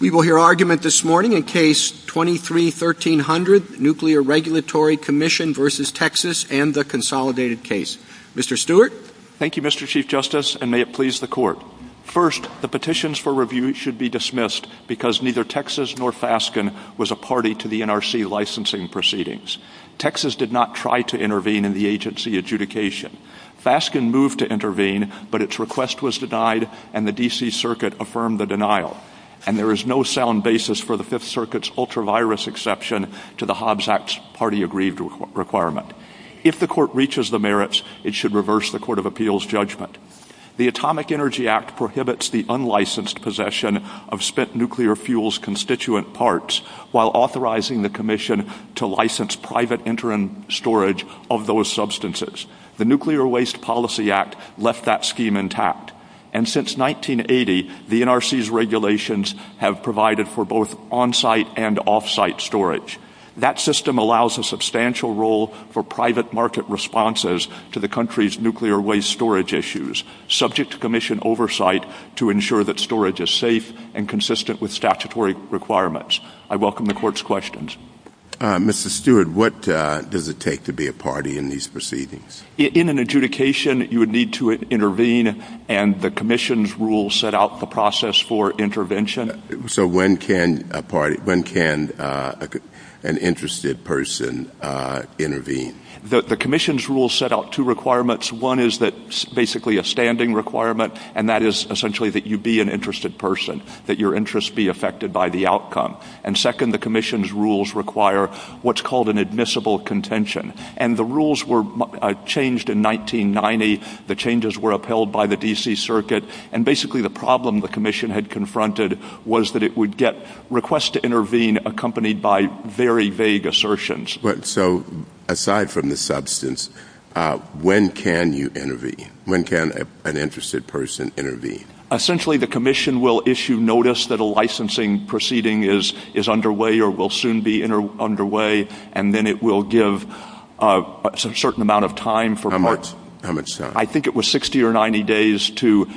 We will hear argument this morning in Case 23-1300 Nuclear Regulatory Commission v. Texas and the Consolidated Case. Mr. Stewart? Thank you, Mr. Chief Justice, and may it please the Court. First, the petitions for review should be dismissed because neither Texas nor FASCN was a party to the NRC licensing proceedings. Texas did not try to intervene in the agency adjudication. FASCN moved to intervene, but its request was denied and the D.C. Circuit affirmed the denial. And there is no sound basis for the Fifth Circuit's ultra-virus exception to the Hobbs Act's party-agreed requirement. If the Court reaches the merits, it should reverse the Court of Appeals judgment. The Atomic Energy Act prohibits the unlicensed possession of spent nuclear fuels' constituent parts while authorizing the Commission to license private interim storage of those substances. The Nuclear Waste Policy Act left that scheme intact. And since 1980, the NRC's regulations have provided for both on-site and off-site storage. That system allows a substantial role for private market responses to the country's nuclear waste storage issues, subject to Commission oversight to ensure that storage is safe and consistent with statutory requirements. I welcome the Court's questions. Mr. Stewart, what does it take to be a party in these proceedings? In an adjudication, you would need to intervene, and the Commission's rules set out the process for intervention. So when can an interested person intervene? The Commission's rules set out two requirements. One is basically a standing requirement, and that is essentially that you be an interested person, that your interests be affected by the outcome. And second, the Commission's rules require what's called an admissible contention, and the rules were changed in 1990. The changes were upheld by the D.C. Circuit, and basically the problem the Commission had confronted was that it would get requests to intervene accompanied by very vague assertions. So aside from the substance, when can you intervene? When can an interested person intervene? Essentially, the Commission will issue notice that a licensing proceeding is underway or will soon be underway, and then it will give a certain amount of time for remarks. How much time? I think it was 60 or 90 days to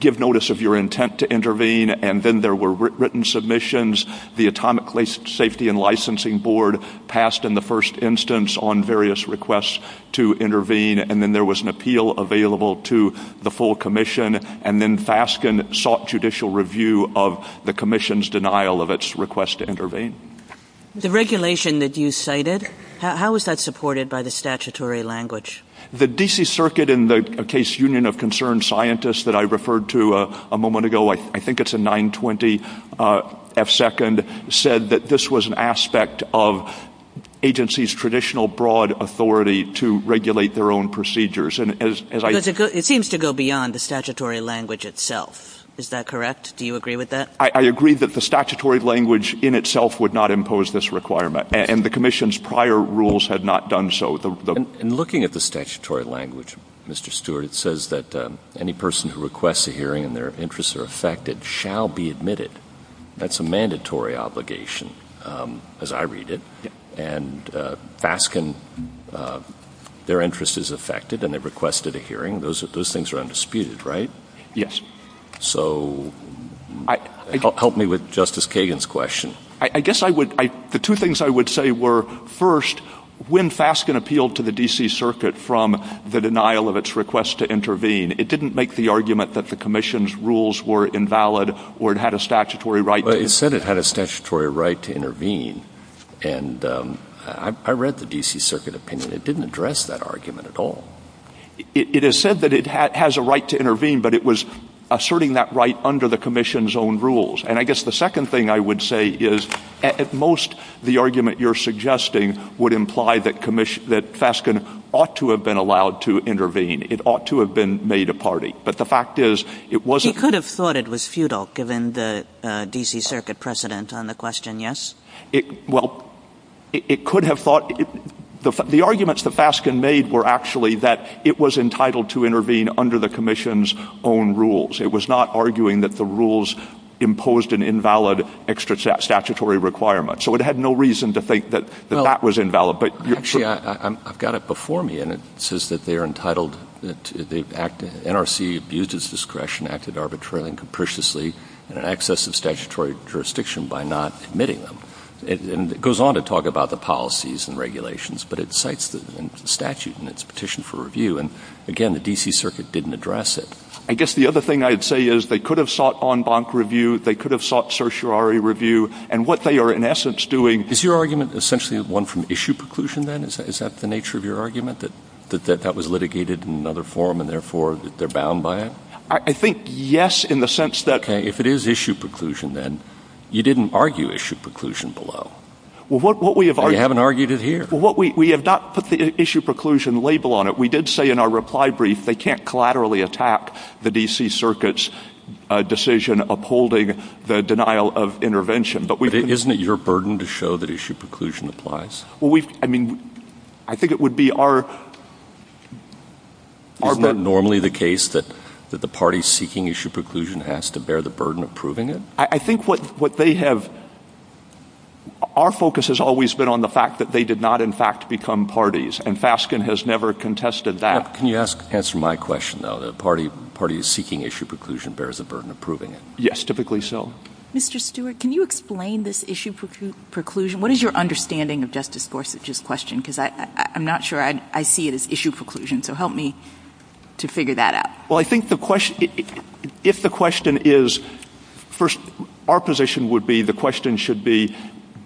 give notice of your intent to intervene, and then there were written submissions. The Atomic Safety and Licensing Board passed in the first instance on various requests to intervene, and then there was an appeal available to the full Commission, and then FASCN sought judicial review of the Commission's denial of its request to intervene. The regulation that you cited, how is that supported by the statutory language? The D.C. Circuit in the case Union of Concerned Scientists that I referred to a moment ago, I think it's a 920F2nd, said that this was an aspect of agencies' traditional broad authority to regulate their own procedures. It seems to go beyond the statutory language itself. Is that correct? Do you agree with that? I agree that the statutory language in itself would not impose this requirement, and the Commission's prior rules had not done so. In looking at the statutory language, Mr. Stewart, it says that any person who requests a hearing and their interests are affected shall be admitted. That's a mandatory obligation, as I read it, and FASCN, their interest is affected and they've requested a hearing. Those things are undisputed, right? Yes. So help me with Justice Kagan's question. The two things I would say were, first, when FASCN appealed to the D.C. Circuit from the denial of its request to intervene, it didn't make the argument that the Commission's rules were invalid or it had a statutory right to intervene. It said it had a statutory right to intervene, and I read the D.C. Circuit opinion. It didn't address that argument at all. It has said that it has a right to intervene, but it was asserting that right under the Commission's own rules. And I guess the second thing I would say is, at most, the argument you're suggesting would imply that FASCN ought to have been allowed to intervene. It ought to have been made a party. But the fact is, it wasn't... You could have thought it was futile, given the D.C. Circuit precedent on the question, yes? Well, it could have thought... The arguments that FASCN made were actually that it was entitled to intervene under the Commission's own rules. It was not arguing that the rules imposed an invalid extra-statutory requirement. So it had no reason to think that that was invalid. Actually, I've got it before me, and it says that they are entitled... NRC abused its discretion, acted arbitrarily and capriciously in an excess of statutory jurisdiction by not admitting them. And it goes on to talk about the policies and regulations, but it cites the statute in its petition for review. And again, the D.C. Circuit didn't address it. I guess the other thing I'd say is, they could have sought en banc review. They could have sought certiorari review. And what they are, in essence, doing... Is your argument essentially one from issue preclusion, then? Is that the nature of your argument? That that was litigated in another form, and therefore they're bound by it? I think yes, in the sense that... Okay. If it is issue preclusion, then, you didn't argue issue preclusion below. Well, what we have... You haven't argued it here. We have not put the issue preclusion label on it. We did say in our reply brief they can't collaterally attack the D.C. Circuit's decision upholding the denial of intervention. But isn't it your burden to show that issue preclusion applies? I mean, I think it would be our... Isn't it normally the case that the party seeking issue preclusion has to bear the burden of proving it? I think what they have... Our focus has always been on the fact that they did not, in fact, become parties. And FASCN has never contested that. Can you answer my question, though? The party seeking issue preclusion bears the burden of proving it. Yes, typically so. Mr. Stewart, can you explain this issue preclusion? What is your understanding of Justice Gorsuch's question? Because I'm not sure I see it as issue preclusion. So help me to figure that out. Well, I think the question... If the question is... First, our position would be the question should be,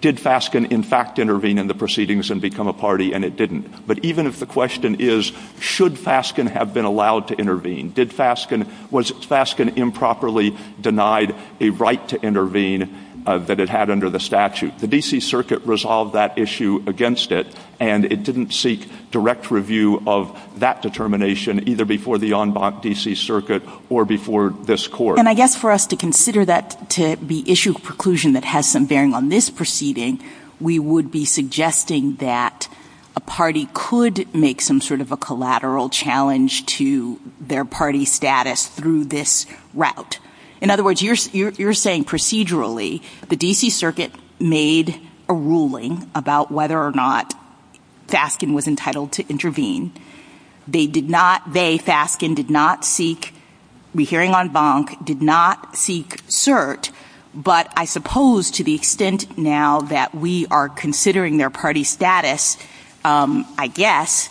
did FASCN, in fact, intervene in the proceedings and become a party? And it didn't. But even if the question is, should FASCN have been allowed to intervene? Did FASCN... Was FASCN improperly denied a right to intervene that it had under the statute? The D.C. Circuit resolved that issue against it. And it didn't seek direct review of that determination, either before the en banc D.C. Circuit or before this court. And I guess for us to consider that to be issue preclusion that has some bearing on this proceeding, we would be suggesting that a party could make some sort of a collateral challenge to their party status through this route. In other words, you're saying procedurally the D.C. Circuit made a ruling about whether or not FASCN was entitled to intervene. They, FASCN, did not seek rehearing en banc, did not seek cert. But I suppose to the extent now that we are considering their party status, I guess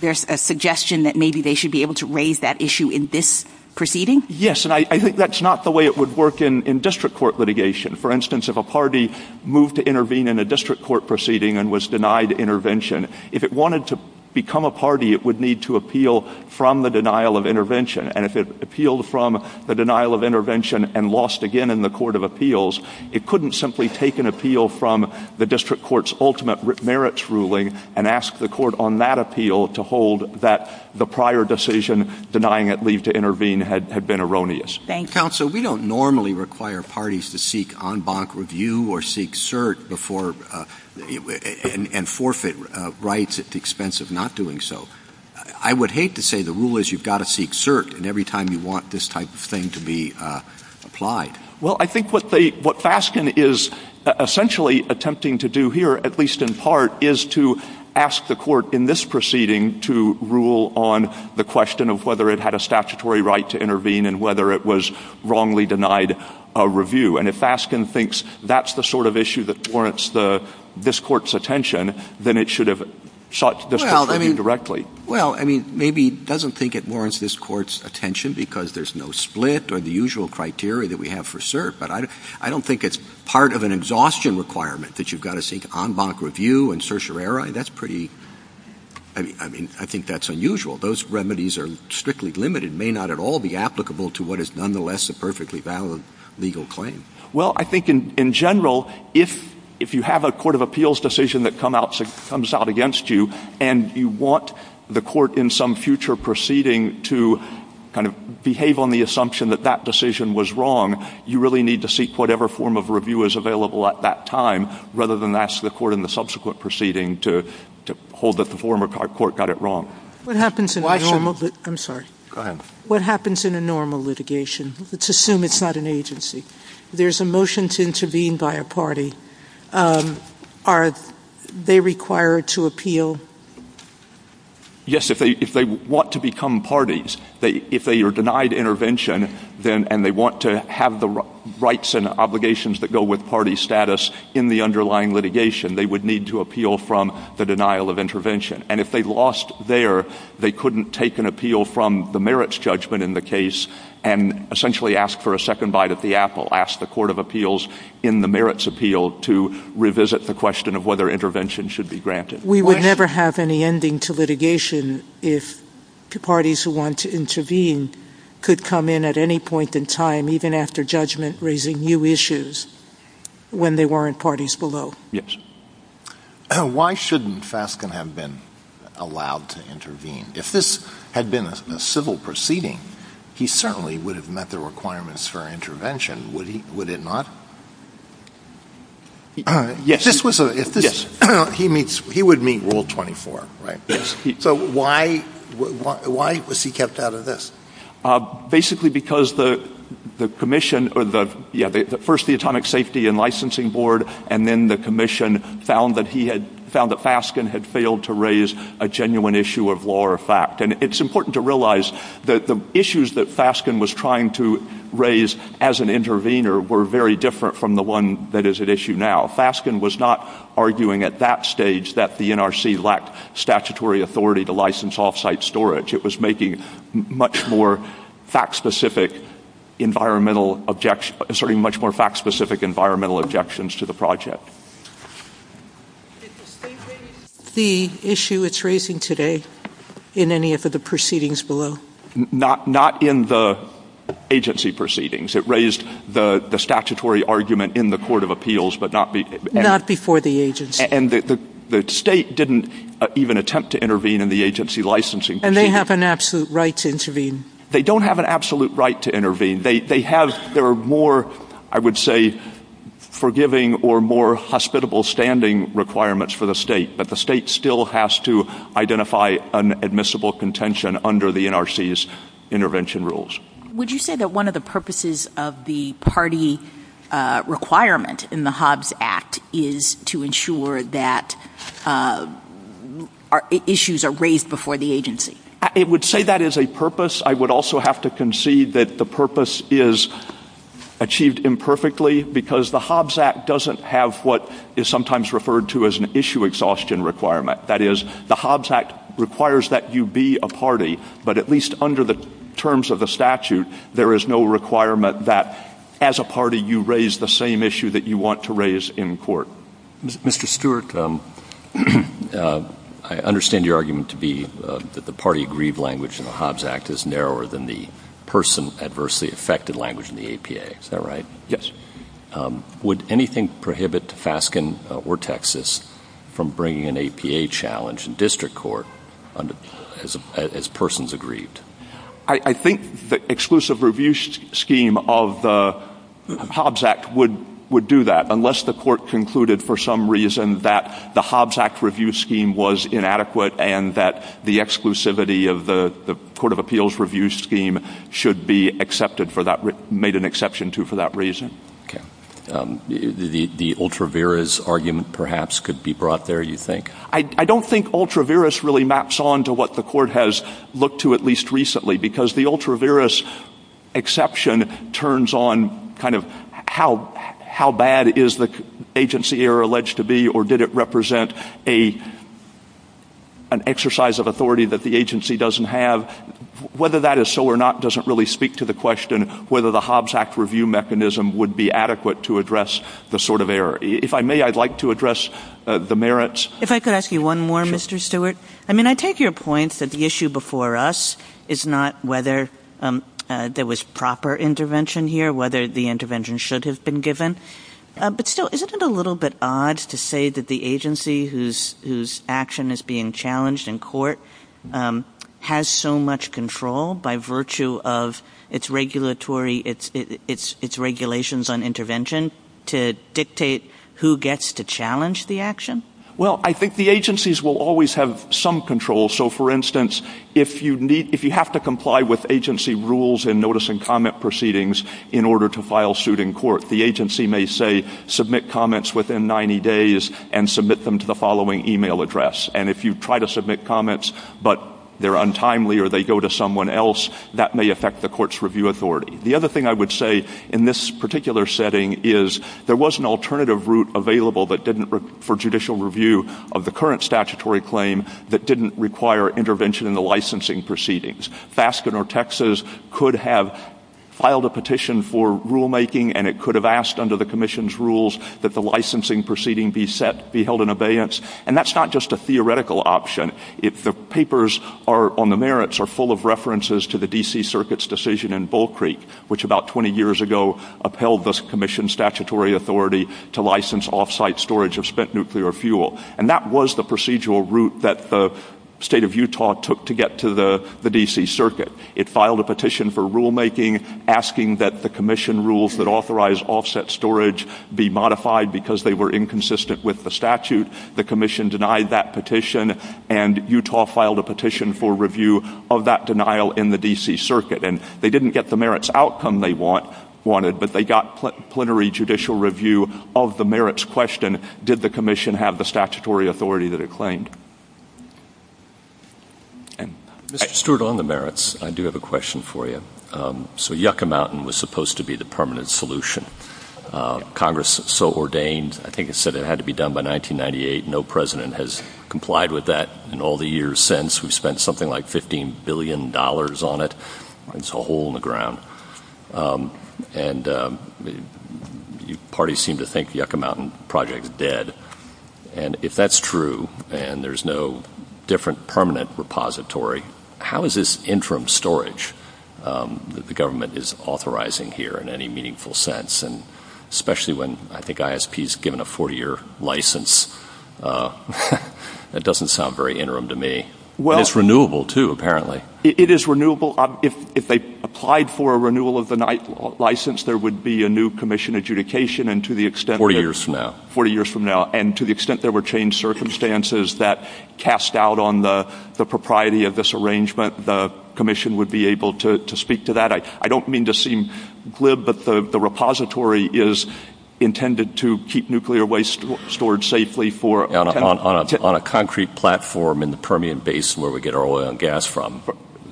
there's a suggestion that maybe they should be able to raise that issue in this proceeding? Yes, and I think that's not the way it would work in district court litigation. For instance, if a party moved to intervene in a district court proceeding and was denied intervention, if it wanted to become a party, it would need to appeal from the denial of intervention. And if it appealed from the denial of intervention and lost again in the court of appeals, it couldn't simply take an appeal from the district court's ultimate merits ruling and ask the court on that appeal to hold that the prior decision denying it leave to intervene had been erroneous. Counsel, we don't normally require parties to seek en banc review or seek cert before and forfeit rights at the expense of not doing so. I would hate to say the rule is you've got to seek cert and every time you want this type of thing to be applied. Well, I think what FASCN is essentially attempting to do here, at least in part, is to ask the court in this proceeding to rule on the question of whether it had a statutory right to intervene and whether it was wrongly denied a review. And if FASCN thinks that's the sort of issue that warrants this court's attention, then it should have sought this question directly. Well, I mean, maybe it doesn't think it warrants this court's attention because there's no split or the usual criteria that we have for cert, but I don't think it's part of an exhaustion requirement that you've got to seek en banc review and certiorari. That's pretty, I mean, I think that's unusual. Those remedies are strictly limited, may not at all be applicable to what is nonetheless a perfectly valid legal claim. Well, I think in general, if you have a court of appeals decision that comes out against you and you want the court in some future proceeding to kind of behave on the assumption that that decision was wrong, you really need to seek whatever form of review is available at that time rather than ask the court in the subsequent proceeding to hold that the former court got it wrong. What happens in a normal litigation, let's assume it's not an agency, there's a motion to intervene by a party, are they required to appeal? Yes, if they want to become parties, if they are denied intervention and they want to have the rights and obligations that go with party status in the underlying litigation, they would need to appeal from the denial of intervention. And if they lost there, they couldn't take an appeal from the merits judgment in the case and essentially ask for a second bite at the apple, ask the court of appeals in the merits appeal to revisit the question of whether intervention should be granted. We would never have any ending to litigation if the parties who want to intervene could come in at any point in time even after judgment raising new issues when they weren't parties below. Yes. Why shouldn't Fasken have been allowed to intervene? If this had been a civil proceeding, he certainly would have met the requirements for intervention, would he not? Yes. He would meet Rule 24, right? Yes. So why was he kept out of this? Basically because the commission, first the Atomic Safety and Licensing Board and then the commission found that Fasken had failed to raise a genuine issue of law or fact. And it's important to realize that the issues that Fasken was trying to raise as an intervener were very different from the one that is at issue now. Fasken was not arguing at that stage that the NRC lacked statutory authority to license off-site storage. It was making much more fact-specific environmental objections to the project. Is the state raising the issue it's raising today in any of the proceedings below? Not in the agency proceedings. It raised the statutory argument in the Court of Appeals, but not before the agency. And the state didn't even attempt to intervene in the agency licensing proceedings. And they have an absolute right to intervene. They don't have an absolute right to intervene. They have their more, I would say, forgiving or more hospitable standing requirements for the state. But the state still has to identify an admissible contention under the NRC's intervention rules. Would you say that one of the purposes of the party requirement in the Hobbs Act is to ensure that issues are raised before the agency? I would say that is a purpose. I would also have to concede that the purpose is achieved imperfectly because the Hobbs Act doesn't have what is sometimes referred to as an issue exhaustion requirement. That is, the Hobbs Act requires that you be a party, but at least under the terms of the statute, there is no requirement that, as a party, you raise the same issue that you want to raise in court. Mr. Stewart, I understand your argument to be that the party aggrieved language in the Hobbs Act is narrower than the person adversely affected language in the APA. Is that right? Yes. Would anything prohibit Fasken or Texas from bringing an APA challenge in district court as persons aggrieved? I think the exclusive review scheme of the Hobbs Act would do that, unless the court concluded for some reason that the Hobbs Act review scheme was inadequate and that the exclusivity of the Court of Appeals review scheme should be made an exception to for that reason. Okay. The ultra viris argument, perhaps, could be brought there, you think? I don't think ultra viris really maps on to what the court has looked to at least recently, because the ultra viris exception turns on kind of how bad is the agency error alleged to be or did it represent an exercise of authority that the agency doesn't have. Whether that is so or not doesn't really speak to the question whether the Hobbs Act review mechanism would be adequate to address the sort of error. If I may, I'd like to address the merits. If I could ask you one more, Mr. Stewart. I mean, I take your point that the issue before us is not whether there was proper intervention here, whether the intervention should have been given. But still, isn't it a little bit odd to say that the agency whose action is being challenged in court has so much control by virtue of its regulations on intervention to dictate who gets to challenge the action? Well, I think the agencies will always have some control. So, for instance, if you have to comply with agency rules in noticing comment proceedings in order to file suit in court, the agency may say, submit comments within 90 days and submit them to the following email address. And if you try to submit comments but they're untimely or they go to someone else, that may affect the court's review authority. The other thing I would say in this particular setting is there was an alternative route available for judicial review of the current statutory claim that didn't require intervention in the licensing proceedings. Fasken or Texas could have filed a petition for rulemaking and it could have asked under the Commission's rules that the licensing proceeding be held in abeyance. And that's not just a theoretical option. The papers on the merits are full of references to the D.C. Circuit's decision in Bull Creek, which about 20 years ago upheld the Commission's statutory authority to license offsite storage of spent nuclear fuel. And that was the procedural route that the state of Utah took to get to the D.C. Circuit. It filed a petition for rulemaking asking that the Commission rules that authorize offset storage be modified because they were inconsistent with the statute. The Commission denied that petition and Utah filed a petition for review of that denial in the D.C. Circuit. And they didn't get the merits outcome they wanted, but they got plenary judicial review of the merits question, did the Commission have the statutory authority that it claimed. Mr. Stewart, on the merits, I do have a question for you. So Yucca Mountain was supposed to be the permanent solution. Congress so ordained, I think it said it had to be done by 1998. No president has complied with that in all the years since. We've spent something like $15 billion on it. It's a hole in the ground. And parties seem to think the Yucca Mountain project is dead. And if that's true and there's no different permanent repository, how is this interim storage that the government is authorizing here in any meaningful sense? And especially when I think ISP's given a 40-year license, that doesn't sound very interim to me. It's renewable, too, apparently. It is renewable. If they applied for a renewal of the license, there would be a new Commission adjudication, and to the extent there were changed circumstances that cast doubt on the propriety of this arrangement, the Commission would be able to speak to that. I don't mean to seem glib, but the repository is intended to keep nuclear waste storage safely. On a concrete platform in the Permian Basin where we get our oil and gas from.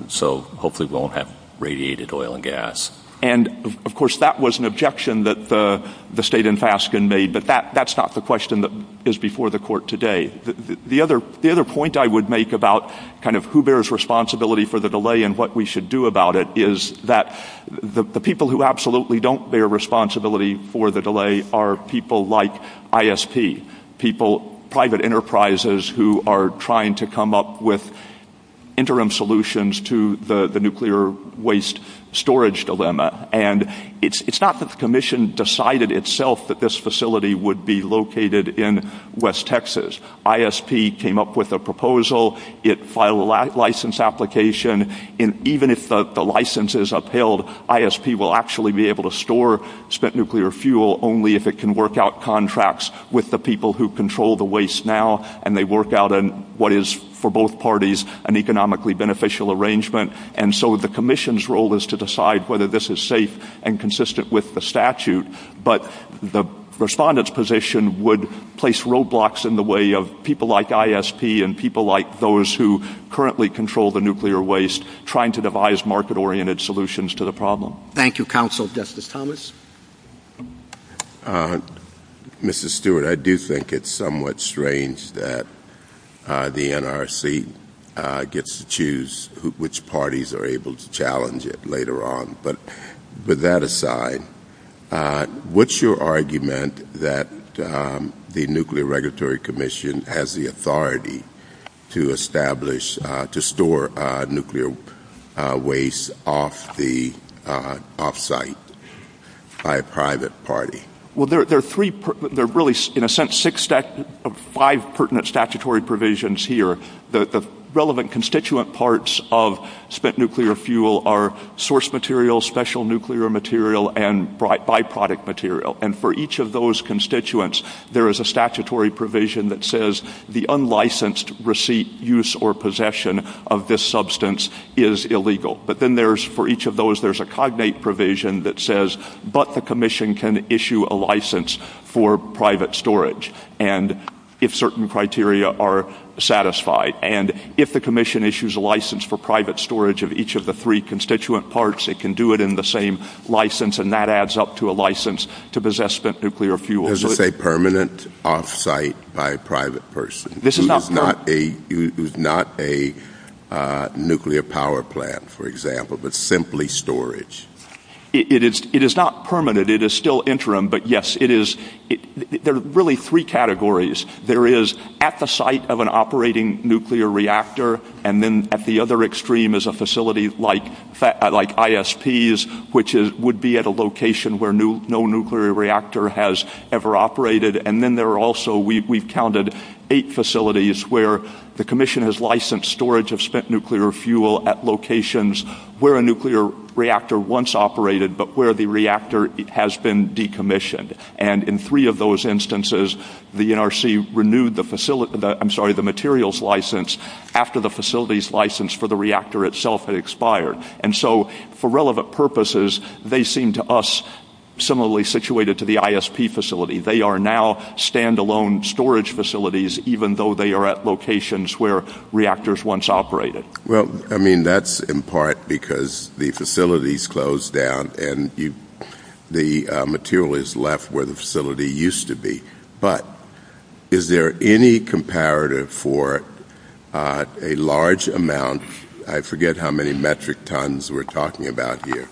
So hopefully we won't have radiated oil and gas. And, of course, that was an objection that the State and FASCN made, but that's not the question that is before the Court today. The other point I would make about kind of who bears responsibility for the delay and what we should do about it is that the people who absolutely don't bear responsibility for the delay are people like ISP, private enterprises who are trying to come up with interim solutions to the nuclear waste storage dilemma. And it's not that the Commission decided itself that this facility would be located in West Texas. ISP came up with a proposal. It filed a license application. Even if the license is upheld, ISP will actually be able to store spent nuclear fuel only if it can work out contracts with the people who control the waste now and they work out what is, for both parties, an economically beneficial arrangement. And so the Commission's role is to decide whether this is safe and consistent with the statute. But the Respondent's position would place roadblocks in the way of people like ISP and people like those who currently control the nuclear waste trying to devise market-oriented solutions to the problem. Thank you, Counsel Justice Thomas. Mr. Stewart, I do think it's somewhat strange that the NRC gets to choose which parties are able to challenge it later on. But with that aside, what's your argument that the Nuclear Regulatory Commission has the authority to establish, to store nuclear waste off-site by a private party? Well, there are really, in a sense, five pertinent statutory provisions here. The relevant constituent parts of spent nuclear fuel are source material, special nuclear material, and by-product material. And for each of those constituents, there is a statutory provision that says the unlicensed receipt, use, or possession of this substance is illegal. But then for each of those, there's a cognate provision that says, but the Commission can issue a license for private storage if certain criteria are satisfied. And if the Commission issues a license for private storage of each of the three constituent parts, it can do it in the same license, and that adds up to a license to possess spent nuclear fuel. This is a permanent off-site by a private person, who is not a nuclear power plant, for example, but simply storage. It is not permanent. It is still interim. But yes, there are really three categories. There is at the site of an operating nuclear reactor, and then at the other extreme is a facility like ISPs, which would be at a location where no nuclear reactor has ever operated. And then there are also, we've counted, eight facilities where the Commission has licensed storage of spent nuclear fuel at locations where a nuclear reactor once operated, but where the reactor has been decommissioned. And in three of those instances, the NRC renewed the materials license after the facility's license for the reactor itself had expired. And so for relevant purposes, they seem to us similarly situated to the ISP facility. They are now standalone storage facilities, even though they are at locations where reactors once operated. Well, I mean, that's in part because the facility is closed down and the material is left where the facility used to be. But is there any comparative for a large amount, I forget how many metric tons we're talking about here,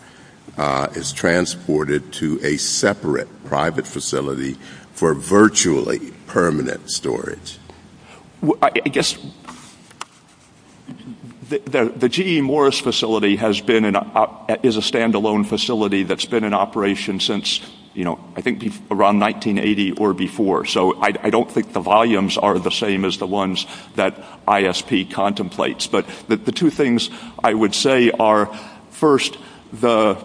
is transported to a separate private facility for virtually permanent storage? I guess the G.E. Morris facility is a standalone facility that's been in operation since, I think, around 1980 or before. So I don't think the volumes are the same as the ones that ISP contemplates. But the two things I would say are, first, the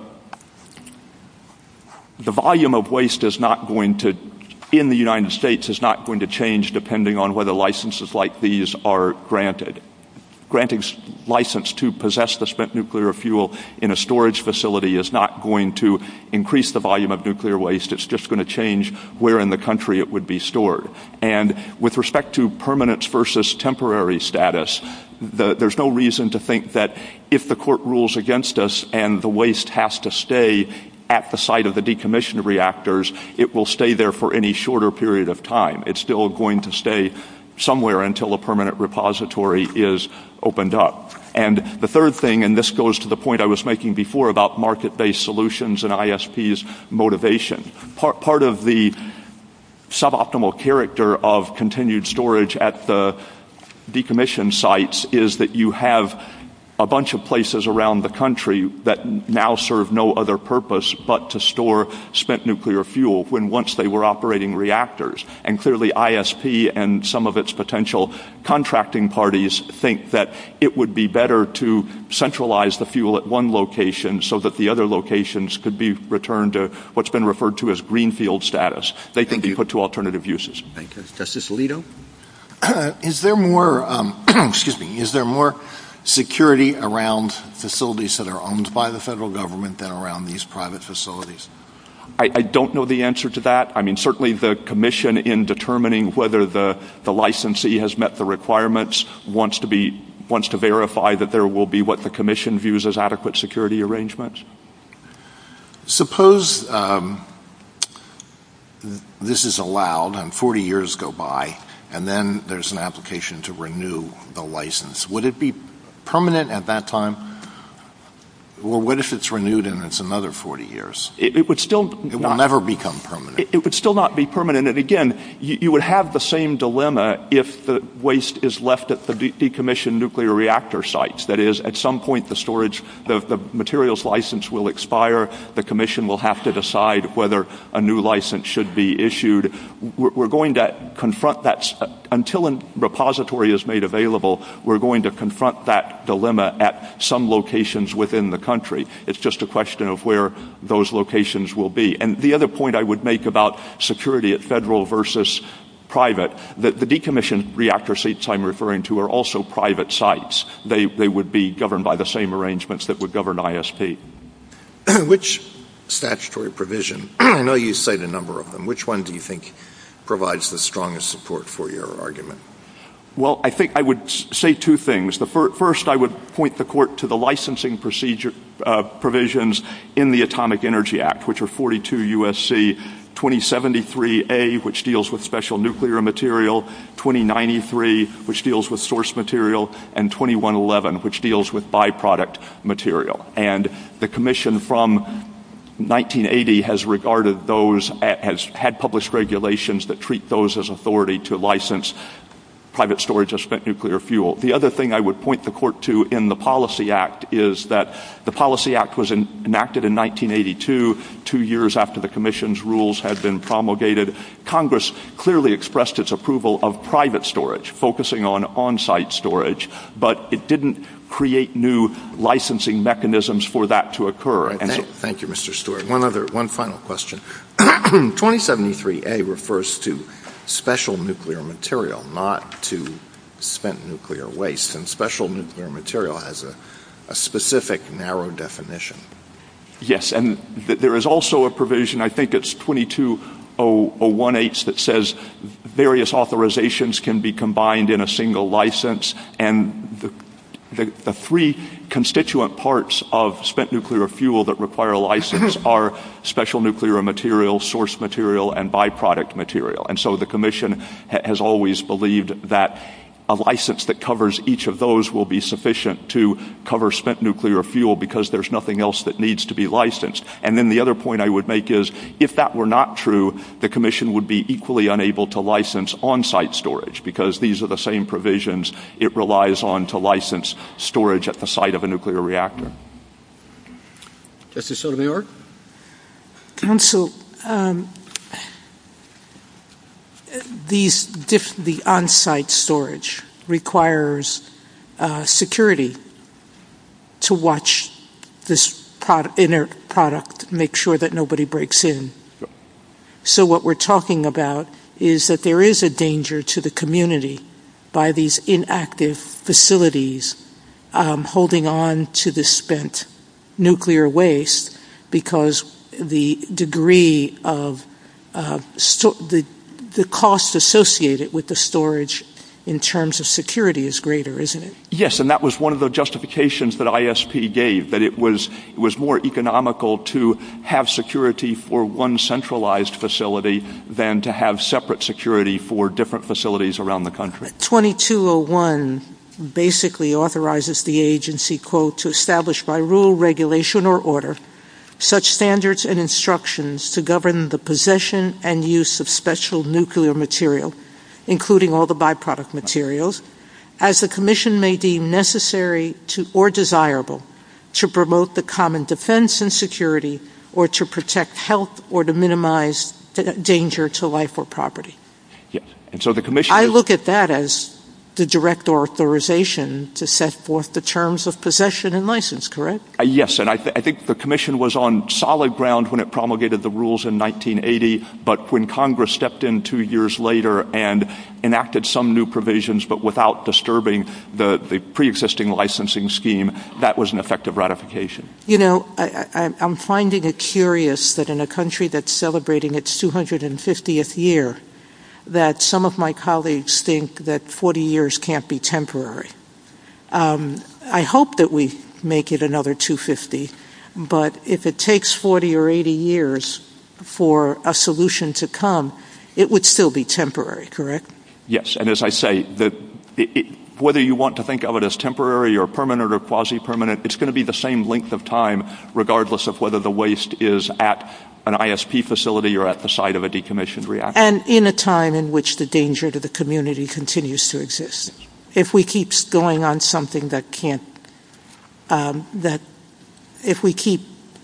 volume of waste in the United States is not going to change depending on whether licenses like these are granted. Granting license to possess the spent nuclear fuel in a storage facility is not going to increase the volume of nuclear waste. It's just going to change where in the country it would be stored. And with respect to permanence versus temporary status, there's no reason to think that if the court rules against us and the waste has to stay at the site of the decommissioned reactors, it will stay there for any shorter period of time. It's still going to stay somewhere until a permanent repository is opened up. And the third thing, and this goes to the point I was making before about market-based solutions and ISP's motivation. Part of the suboptimal character of continued storage at the decommissioned sites is that you have a bunch of places around the country that now serve no other purpose but to store spent nuclear fuel when once they were operating reactors. And clearly ISP and some of its potential contracting parties think that it would be better to centralize the fuel at one location so that the other locations could be returned to what's been referred to as greenfield status. They can be put to alternative uses. Justice Alito? Is there more security around facilities that are owned by the federal government than around these private facilities? I don't know the answer to that. I mean, certainly the commission in determining whether the licensee has met the requirements wants to verify that there will be what the commission views as adequate security arrangements. Suppose this is allowed and 40 years go by and then there's an application to renew the license. Would it be permanent at that time? Or what if it's renewed and it's another 40 years? It will never become permanent. It would still not be permanent. And again, you would have the same dilemma if the waste is left at the decommissioned nuclear reactor sites. That is, at some point the materials license will expire. The commission will have to decide whether a new license should be issued. We're going to confront that. Until a repository is made available, we're going to confront that dilemma at some locations within the country. It's just a question of where those locations will be. And the other point I would make about security at federal versus private, the decommissioned reactor sites I'm referring to are also private sites. They would be governed by the same arrangements that would govern ISP. Which statutory provision? I know you say a number of them. Which one do you think provides the strongest support for your argument? Well, I think I would say two things. First, I would point the court to the licensing provisions in the Atomic Energy Act, which are 42 U.S.C., 2073A, which deals with special nuclear material, 2093, which deals with source material, and 2111, which deals with byproduct material. And the commission from 1980 has regarded those, has had published regulations that treat those as authority to license private storage of spent nuclear fuel. The other thing I would point the court to in the Policy Act is that the Policy Act was enacted in 1982, two years after the commission's rules had been promulgated. Congress clearly expressed its approval of private storage, focusing on on-site storage, but it didn't create new licensing mechanisms for that to occur. Thank you, Mr. Stewart. One final question. 2073A refers to special nuclear material, not to spent nuclear waste, and special nuclear material has a specific, narrow definition. Yes, and there is also a provision, I think it's 22018, that says various authorizations can be combined in a single license, and the three constituent parts of spent nuclear fuel that require a license are special nuclear material, source material, and byproduct material. And so the commission has always believed that a license that covers each of those will be sufficient to cover spent nuclear fuel because there's nothing else that needs to be licensed. And then the other point I would make is, if that were not true, the commission would be equally unable to license on-site storage because these are the same provisions it relies on to license storage at the site of a nuclear reactor. Jesse Sotomayor? Counsel, the on-site storage requires security to watch this inner product, make sure that nobody breaks in. So what we're talking about is that there is a danger to the community by these inactive facilities holding on to the spent nuclear waste because the cost associated with the storage in terms of security is greater, isn't it? Yes, and that was one of the justifications that ISP gave, that it was more economical to have security for one centralized facility than to have separate security for different facilities around the country. 2201 basically authorizes the agency, quote, to establish by rule, regulation, or order such standards and instructions to govern the possession and use of special nuclear material, including all the byproduct materials, as the commission may deem necessary or desirable to promote the common defense and security or to protect health or to minimize danger to life or property. I look at that as the direct authorization to set forth the terms of possession and license, correct? Yes, and I think the commission was on solid ground when it promulgated the rules in 1980, but when Congress stepped in two years later and enacted some new provisions, but without disturbing the preexisting licensing scheme, that was an effective ratification. You know, I'm finding it curious that in a country that's celebrating its 250th year, that some of my colleagues think that 40 years can't be temporary. I hope that we make it another 250, but if it takes 40 or 80 years for a solution to come, it would still be temporary, correct? Yes, and as I say, whether you want to think of it as temporary or permanent or quasi-permanent, it's going to be the same length of time regardless of whether the waste is at an ISP facility or at the site of a decommissioned reactor. And in a time in which the danger to the community continues to exist. If we keep going on something that can't, if we keep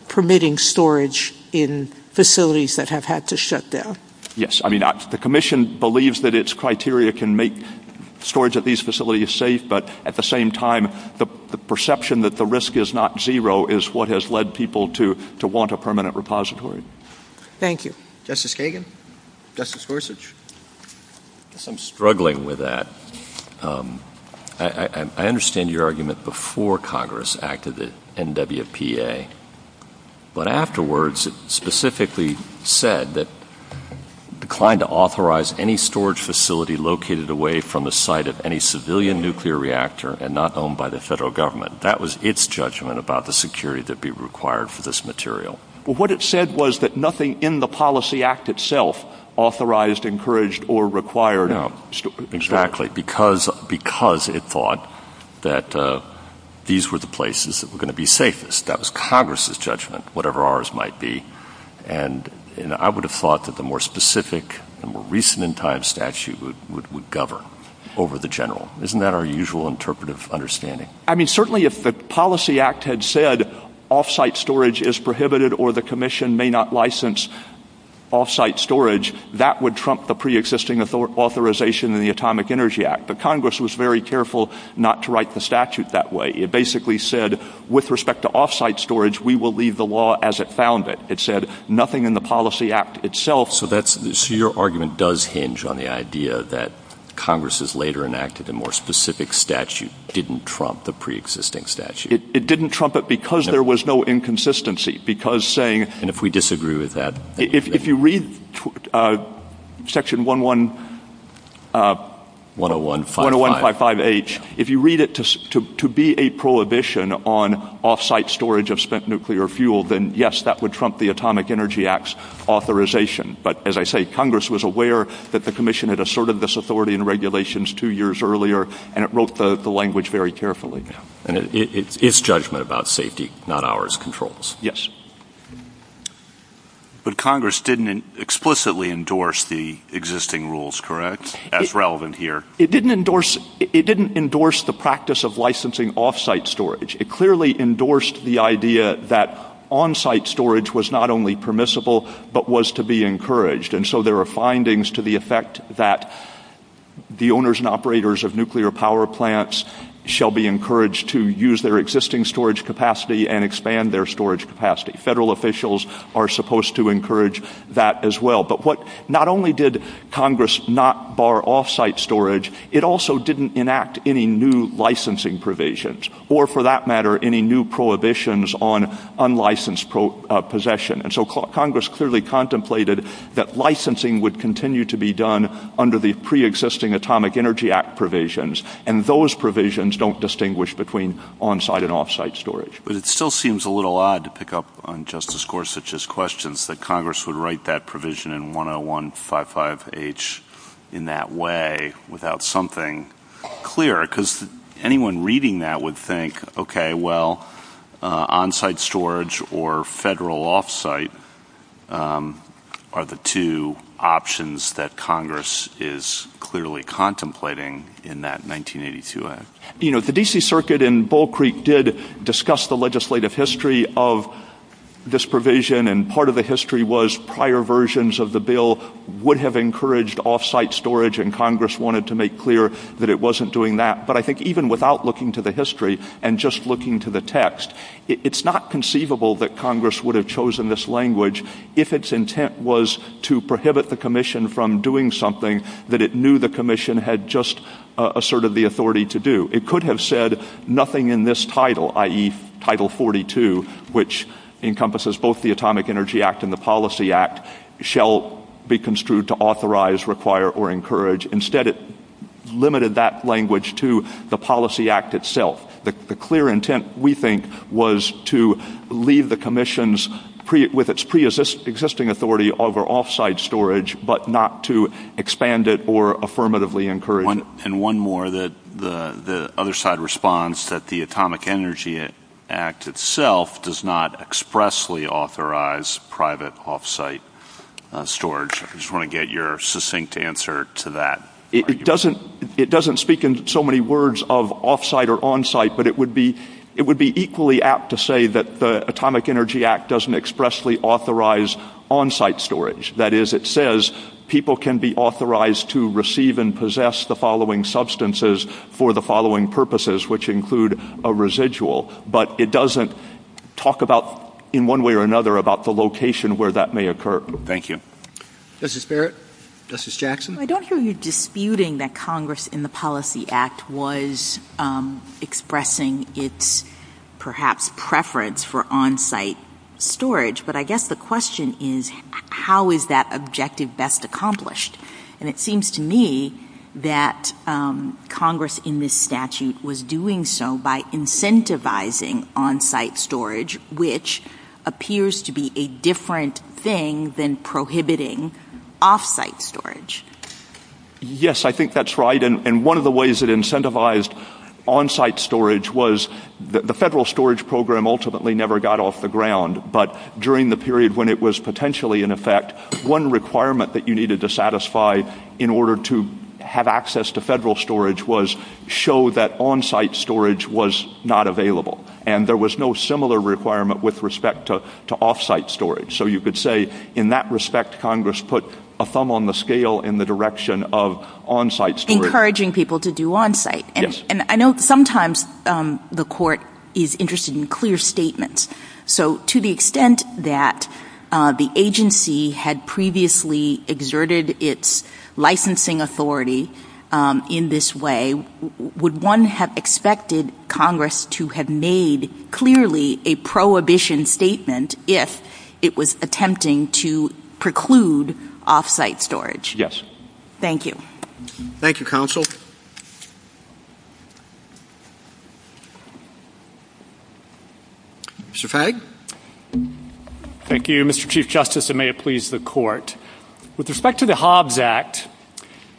permitting storage in facilities that have had to shut down. Yes, I mean, the Commission believes that its criteria can make storage at these facilities safe, but at the same time, the perception that the risk is not zero is what has led people to want a permanent repository. Thank you. Justice Kagan? Justice Gorsuch? I guess I'm struggling with that. I understand your argument before Congress acted at NWPA, but afterwards it specifically said that it declined to authorize any storage facility located away from the site of any civilian nuclear reactor and not owned by the federal government. That was its judgment about the security that would be required for this material. What it said was that nothing in the policy act itself authorized, encouraged, or required storage. Exactly, because it thought that these were the places that were going to be safest. That was Congress's judgment, whatever ours might be, and I would have thought that the more specific and more recent in time statute would govern over the general. Isn't that our usual interpretive understanding? I mean, certainly if the policy act had said off-site storage is prohibited or the Commission may not license off-site storage, that would trump the pre-existing authorization in the Atomic Energy Act. The Congress was very careful not to write the statute that way. It basically said, with respect to off-site storage, we will leave the law as it found it. It said nothing in the policy act itself. So your argument does hinge on the idea that Congress's later enacted and more specific statute didn't trump the pre-existing statute. It didn't trump it because there was no inconsistency. And if we disagree with that? If you read section 1155H, if you read it to be a prohibition on off-site storage of spent nuclear fuel, then yes, that would trump the Atomic Energy Act's authorization. But as I say, Congress was aware that the Commission had asserted this authority and regulations two years earlier, and it wrote the language very carefully. It's judgment about safety, not ours, controls. Yes. But Congress didn't explicitly endorse the existing rules, correct, as relevant here? It didn't endorse the practice of licensing off-site storage. It clearly endorsed the idea that on-site storage was not only permissible, but was to be encouraged. And so there are findings to the effect that the owners and operators of nuclear power plants shall be encouraged to use their existing storage capacity and expand their storage capacity. Federal officials are supposed to encourage that as well. But not only did Congress not bar off-site storage, it also didn't enact any new licensing provisions, or for that matter, any new prohibitions on unlicensed possession. And so Congress clearly contemplated that licensing would continue to be done under the pre-existing Atomic Energy Act provisions, and those provisions don't distinguish between on-site and off-site storage. But it still seems a little odd to pick up on Justice Gorsuch's questions that Congress would write that provision in 10155H in that way without something clear, because anyone reading that would think, okay, well, on-site storage or federal off-site are the two options that Congress is clearly contemplating in that 1982 Act. You know, the D.C. Circuit in Bull Creek did discuss the legislative history of this provision, and part of the history was prior versions of the bill would have encouraged off-site storage, and Congress wanted to make clear that it wasn't doing that. But I think even without looking to the history and just looking to the text, it's not conceivable that Congress would have chosen this language if its intent was to prohibit the Commission from doing something that it knew the Commission had just asserted the authority to do. It could have said nothing in this title, i.e., Title 42, which encompasses both the Atomic Energy Act and the Policy Act, shall be construed to authorize, require, or encourage. Instead, it limited that language to the Policy Act itself. The clear intent, we think, was to leave the Commission with its preexisting authority over off-site storage but not to expand it or affirmatively encourage it. And one more, the other side responds that the Atomic Energy Act itself does not expressly authorize private off-site storage. I just want to get your succinct answer to that. It doesn't speak in so many words of off-site or on-site, but it would be equally apt to say that the Atomic Energy Act doesn't expressly authorize on-site storage. That is, it says people can be authorized to receive and possess the following substances for the following purposes, which include a residual. But it doesn't talk about, in one way or another, about the location where that may occur. Thank you. Justice Barrett? Justice Jackson? I don't hear you disputing that Congress in the Policy Act was expressing its, perhaps, preference for on-site storage. But I guess the question is, how is that objective best accomplished? And it seems to me that Congress in this statute was doing so by incentivizing on-site storage, which appears to be a different thing than prohibiting off-site storage. Yes, I think that's right. And one of the ways it incentivized on-site storage was the federal storage program ultimately never got off the ground. But during the period when it was potentially in effect, one requirement that you needed to satisfy in order to have access to federal storage was show that on-site storage was not available. And there was no similar requirement with respect to off-site storage. So you could say, in that respect, Congress put a thumb on the scale in the direction of on-site storage. Encouraging people to do on-site. Yes. And I know sometimes the court is interested in clear statements. So to the extent that the agency had previously exerted its licensing authority in this way, would one have expected Congress to have made clearly a prohibition statement if it was attempting to preclude off-site storage? Thank you. Thank you, counsel. Mr. Fagg. Thank you, Mr. Chief Justice, and may it please the court. With respect to the Hobbs Act,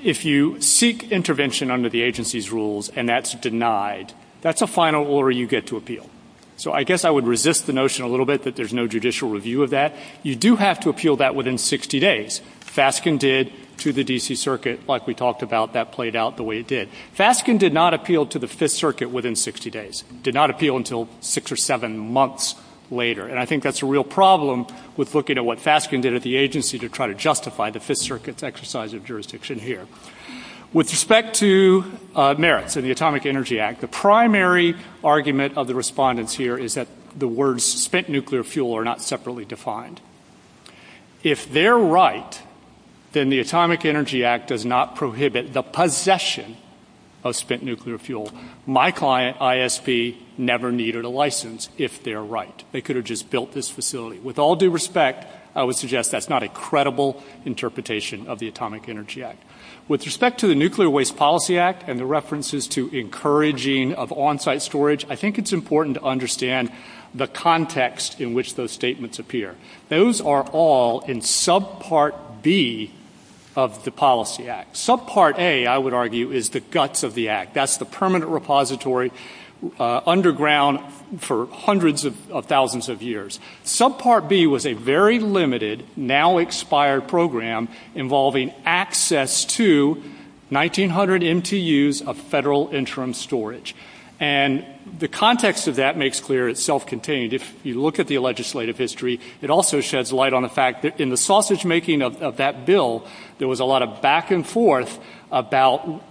if you seek intervention under the agency's rules and that's denied, that's a final order you get to appeal. So I guess I would resist the notion a little bit that there's no judicial review of that. You do have to appeal that within 60 days. Faskin did to the D.C. Circuit. Like we talked about, that played out the way it did. Faskin did not appeal to the Fifth Circuit within 60 days. Did not appeal until six or seven months later. And I think that's a real problem with looking at what Faskin did at the agency to try to justify the Fifth Circuit's exercise of jurisdiction here. With respect to merits in the Atomic Energy Act, the primary argument of the respondents here is that the words spent nuclear fuel are not separately defined. If they're right, then the Atomic Energy Act does not prohibit the possession of spent nuclear fuel. My client, ISP, never needed a license if they're right. They could have just built this facility. With all due respect, I would suggest that's not a credible interpretation of the Atomic Energy Act. With respect to the Nuclear Waste Policy Act and the references to encouraging of on-site storage, I think it's important to understand the context in which those statements appear. Those are all in subpart B of the policy act. Subpart A, I would argue, is the guts of the act. That's the permanent repository underground for hundreds of thousands of years. Subpart B was a very limited, now expired program involving access to 1,900 MTUs of federal interim storage. And the context of that makes clear it's self-contained. If you look at the legislative history, it also sheds light on the fact that in the sausage-making of that bill, there was a lot of back and forth about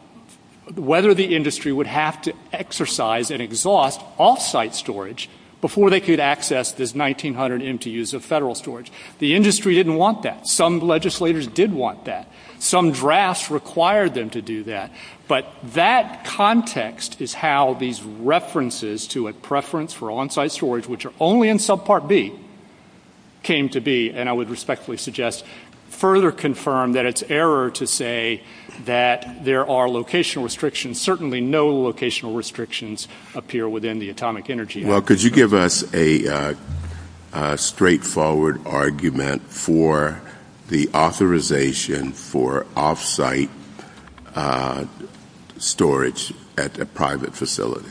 whether the industry would have to exercise and exhaust off-site storage before they could access this 1,900 MTUs of federal storage. The industry didn't want that. Some legislators did want that. Some drafts required them to do that. But that context is how these references to a preference for on-site storage, which are only in subpart B, came to be. And I would respectfully suggest further confirm that it's error to say that there are location restrictions. Certainly no locational restrictions appear within the Atomic Energy Act. Well, could you give us a straightforward argument for the authorization for off-site storage at a private facility?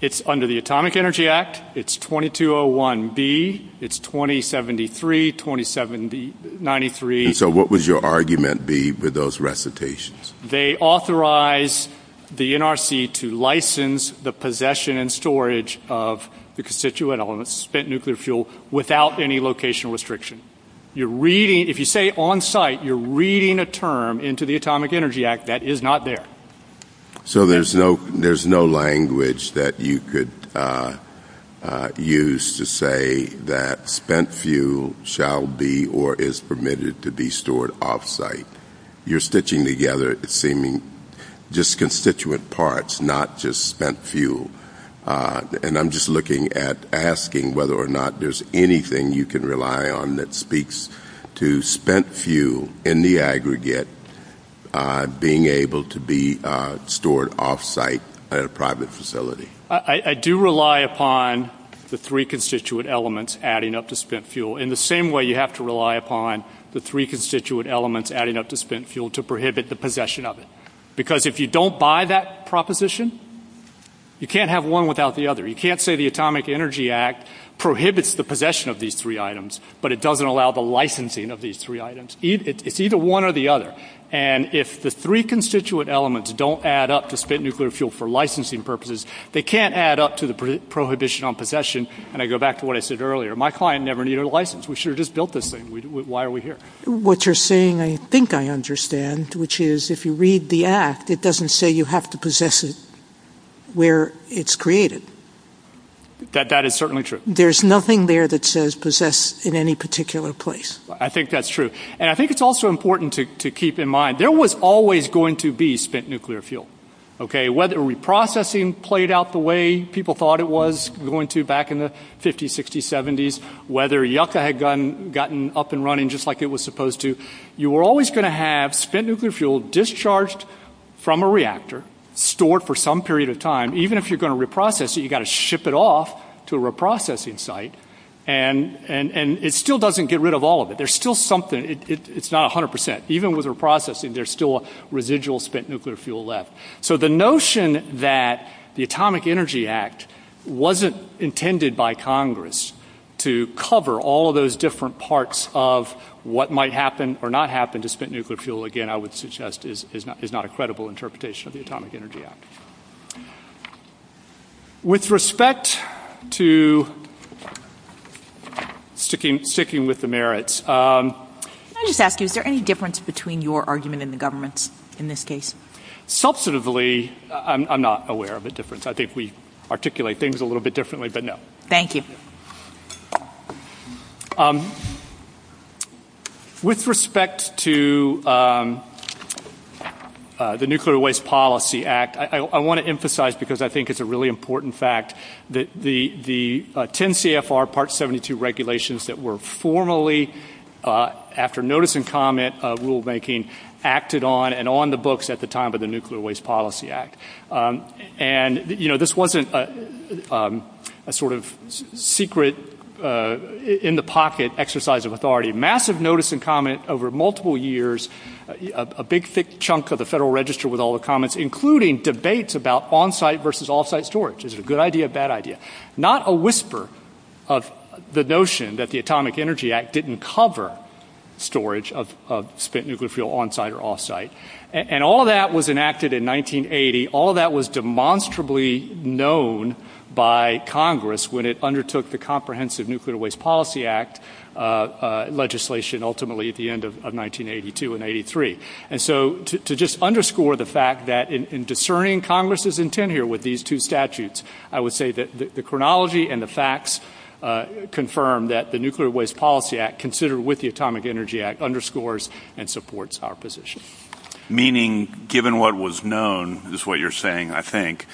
It's under the Atomic Energy Act. It's 2201B. It's 2073, 2093. And so what would your argument be with those recitations? They authorize the NRC to license the possession and storage of the constituent spent nuclear fuel without any locational restriction. If you say on-site, you're reading a term into the Atomic Energy Act that is not there. So there's no language that you could use to say that spent fuel shall be or is permitted to be stored off-site. You're stitching together seeming just constituent parts, not just spent fuel. And I'm just looking at asking whether or not there's anything you can rely on that speaks to spent fuel in the aggregate being able to be stored off-site at a private facility. I do rely upon the three constituent elements adding up to spent fuel. In the same way, you have to rely upon the three constituent elements adding up to spent fuel to prohibit the possession of it. Because if you don't buy that proposition, you can't have one without the other. You can't say the Atomic Energy Act prohibits the possession of these three items, but it doesn't allow the licensing of these three items. It's either one or the other. And if the three constituent elements don't add up to spent nuclear fuel for licensing purposes, they can't add up to the prohibition on possession. And I go back to what I said earlier. My client never needed a license. We should have just built this thing. Why are we here? What you're saying, I think I understand, which is if you read the Act, it doesn't say you have to possess it where it's created. That is certainly true. There's nothing there that says possess in any particular place. I think that's true. And I think it's also important to keep in mind, there was always going to be spent nuclear fuel. Whether reprocessing played out the way people thought it was going to back in the 50s, 60s, 70s, whether Yucca had gotten up and running just like it was supposed to, you were always going to have spent nuclear fuel discharged from a reactor, stored for some period of time. Even if you're going to reprocess it, you've got to ship it off to a reprocessing site. And it still doesn't get rid of all of it. There's still something. It's not 100%. Even with reprocessing, there's still residual spent nuclear fuel left. So the notion that the Atomic Energy Act wasn't intended by Congress to cover all of those different parts of what might happen or not happen to spent nuclear fuel, again, I would suggest is not a credible interpretation of the Atomic Energy Act. With respect to sticking with the merits... Can I just ask you, is there any difference between your argument and the government's in this case? Substantively, I'm not aware of a difference. I think we articulate things a little bit differently, but no. Thank you. With respect to the Nuclear Waste Policy Act, I want to emphasize, because I think it's a really important fact, that the 10 CFR Part 72 regulations that were formally, after notice and comment of rulemaking, acted on and on the books at the time of the Nuclear Waste Policy Act. And this wasn't a sort of secret, in-the-pocket exercise of authority. Massive notice and comment over multiple years, a big, thick chunk of the Federal Register with all the comments, including debates about on-site versus off-site storage. Is it a good idea or a bad idea? Not a whisper of the notion that the Atomic Energy Act didn't cover storage of spent nuclear fuel on-site or off-site. And all that was enacted in 1980. All that was demonstrably known by Congress when it undertook the comprehensive Nuclear Waste Policy Act legislation, ultimately at the end of 1982 and 83. And so, to just underscore the fact that in discerning Congress's intent here with these two statutes, I would say that the chronology and the facts confirm that the Nuclear Waste Policy Act, considered with the Atomic Energy Act, underscores and supports our position. Meaning, given what was known, is what you're saying, I think,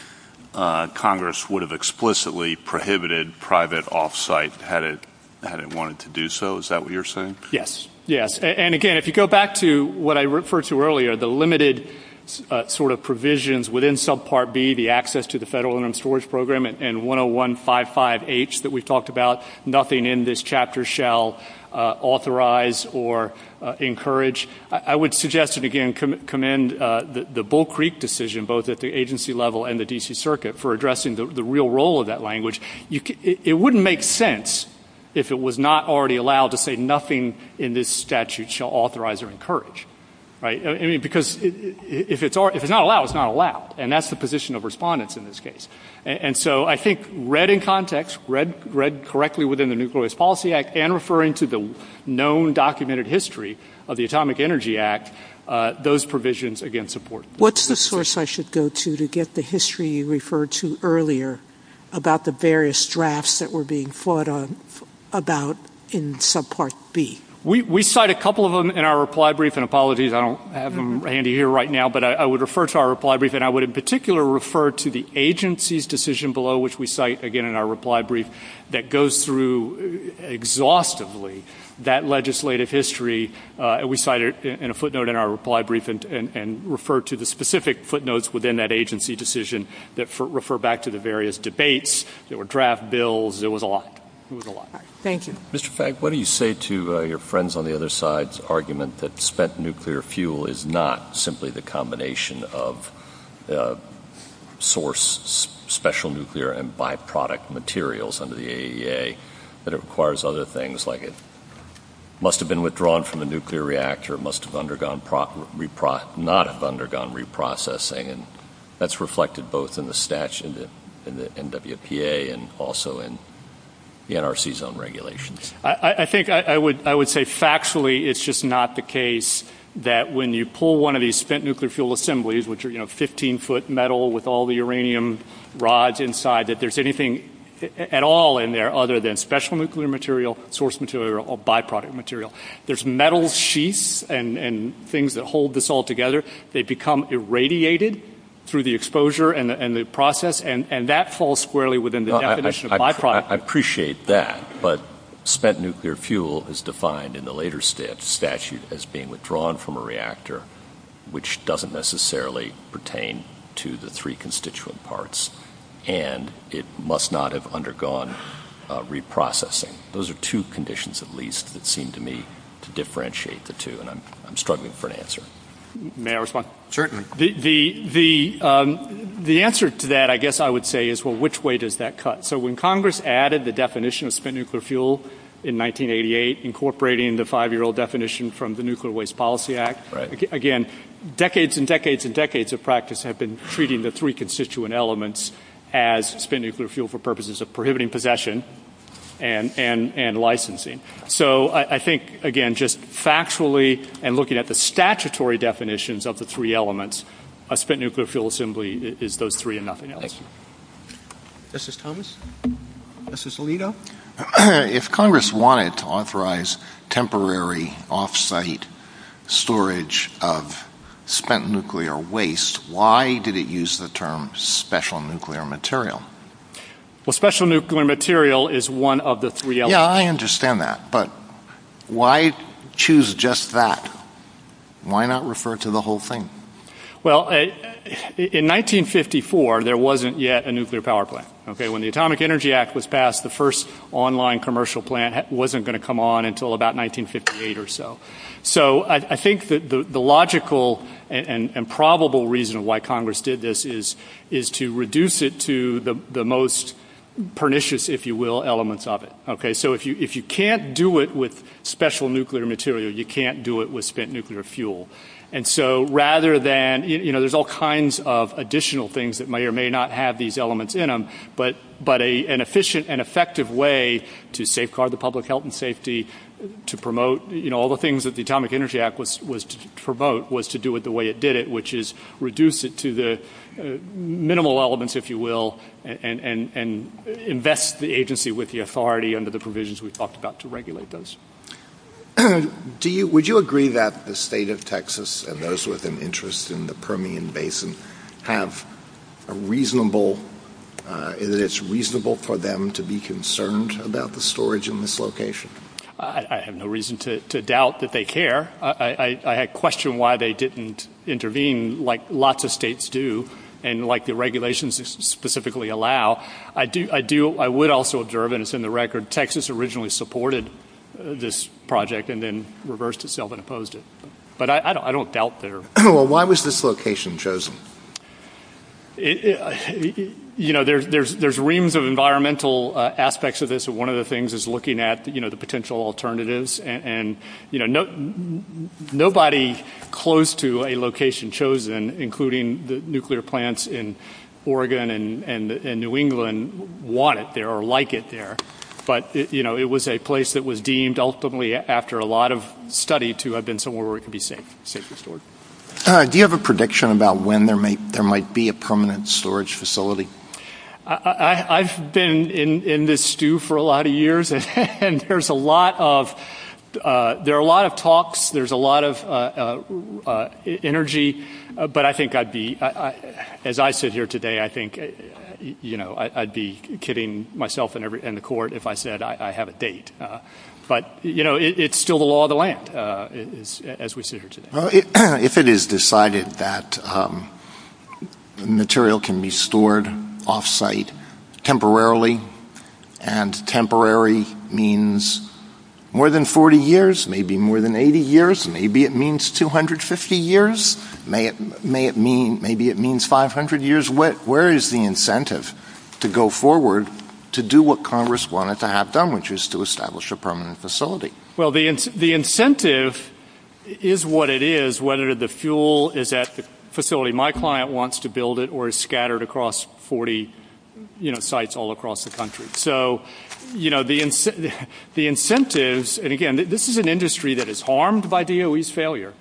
Congress would have explicitly prohibited private off-site had it wanted to do so. Is that what you're saying? Yes. Yes. And again, if you go back to what I referred to earlier, the limited sort of provisions within Subpart B, the access to the Federal Interim Storage Program, and 10155H that we talked about, nothing in this chapter shall authorize or encourage, I would suggest and again commend the Bull Creek decision, both at the agency level and the D.C. Circuit, for addressing the real role of that language. It wouldn't make sense if it was not already allowed to say nothing in this statute shall authorize or encourage. Because if it's not allowed, it's not allowed. And that's the position of respondents in this case. And so I think read in context, read correctly within the Nuclear Waste Policy Act and referring to the known documented history of the Atomic Energy Act, those provisions, again, support. What's the source I should go to to get the history you referred to earlier about the various drafts that were being fought on about in Subpart B? We cite a couple of them in our reply brief. And apologies, I don't have them handy here right now. But I would refer to our reply brief, and I would in particular refer to the agency's decision below, which we cite again in our reply brief, that goes through exhaustively that legislative history. We cite it in a footnote in our reply brief and refer to the specific footnotes within that agency decision that refer back to the various debates. There were draft bills. There was a lot. Thank you. Mr. Fagg, what do you say to your friends on the other side's argument that spent nuclear fuel is not simply the combination of source special nuclear and byproduct materials under the AEA, that it requires other things like it must have been withdrawn from the nuclear reactor, must have undergone reprocessing, not have undergone reprocessing. And that's reflected both in the statute in the NWPA and also in the NRC's own regulations. I think I would say factually it's just not the case that when you pull one of these spent nuclear fuel assemblies, which are 15-foot metal with all the uranium rods inside, that there's anything at all in there other than special nuclear material, source material, or byproduct material. There's metal sheets and things that hold this all together. They become irradiated through the exposure and the process, and that falls squarely within the definition of byproduct. I appreciate that, but spent nuclear fuel is defined in the later statute as being withdrawn from a reactor, which doesn't necessarily pertain to the three constituent parts, and it must not have undergone reprocessing. Those are two conditions, at least, that seem to me to differentiate the two, and I'm struggling for an answer. May I respond? The answer to that, I guess I would say, is, well, which way does that cut? So when Congress added the definition of spent nuclear fuel in 1988, incorporating the five-year-old definition from the Nuclear Waste Policy Act, again, decades and decades and decades of practice have been treating the three constituent elements as spent nuclear fuel for purposes of prohibiting possession and licensing. So I think, again, just factually and looking at the statutory definitions of the three elements, a spent nuclear fuel assembly is those three and nothing else. Mrs. Thomas? Mrs. Alito? If Congress wanted to authorize temporary off-site storage of spent nuclear waste, why did it use the term special nuclear material? Well, special nuclear material is one of the three elements. Yeah, I understand that, but why choose just that? Why not refer to the whole thing? Well, in 1954, there wasn't yet a nuclear power plant. When the Atomic Energy Act was passed, the first online commercial plant wasn't going to come on until about 1958 or so. So I think that the logical and probable reason why Congress did this is to reduce it to the most pernicious, if you will, elements of it. So if you can't do it with special nuclear material, you can't do it with spent nuclear fuel. And so rather than, you know, there's all kinds of additional things that may or may not have these elements in them, but an efficient and effective way to safeguard the public health and safety, to promote, you know, all the things that the Atomic Energy Act was to promote was to do it the way it did it, which is reduce it to the minimal elements, if you will, and invest the agency with the authority under the provisions we talked about to regulate those. Would you agree that the state of Texas and those with an interest in the Permian Basin have a reasonable, that it's reasonable for them to be concerned about the storage in this location? I have no reason to doubt that they care. I question why they didn't intervene like lots of states do and like the regulations specifically allow. I would also observe, and it's in the record, Texas originally supported this project and then reversed itself and opposed it. But I don't doubt their... Well, why was this location chosen? You know, there's reams of environmental aspects of this, and one of the things is looking at, you know, the potential alternatives. And, you know, nobody close to a location chosen, including the nuclear plants in Oregon and New England, want it there or like it there. But, you know, it was a place that was deemed ultimately, after a lot of study, to have been somewhere where it could be safely stored. Do you have a prediction about when there might be a permanent storage facility? I've been in this stew for a lot of years, and there's a lot of... There are a lot of talks. There's a lot of energy. But I think I'd be... As I sit here today, I think, you know, I'd be kidding myself in the court if I said I have a date. But, you know, it's still the law of the land as we sit here today. If it is decided that material can be stored off-site temporarily, and temporary means more than 40 years, maybe more than 80 years, maybe it means 250 years, maybe it means 500 years, where is the incentive to go forward to do what Congress wanted to have done, which was to establish a permanent facility? Well, the incentive is what it is, whether the fuel is at the facility my client wants to build it or is scattered across 40, you know, sites all across the country. So, you know, the incentives... And, again, this is an industry that is harmed by DOE's failure.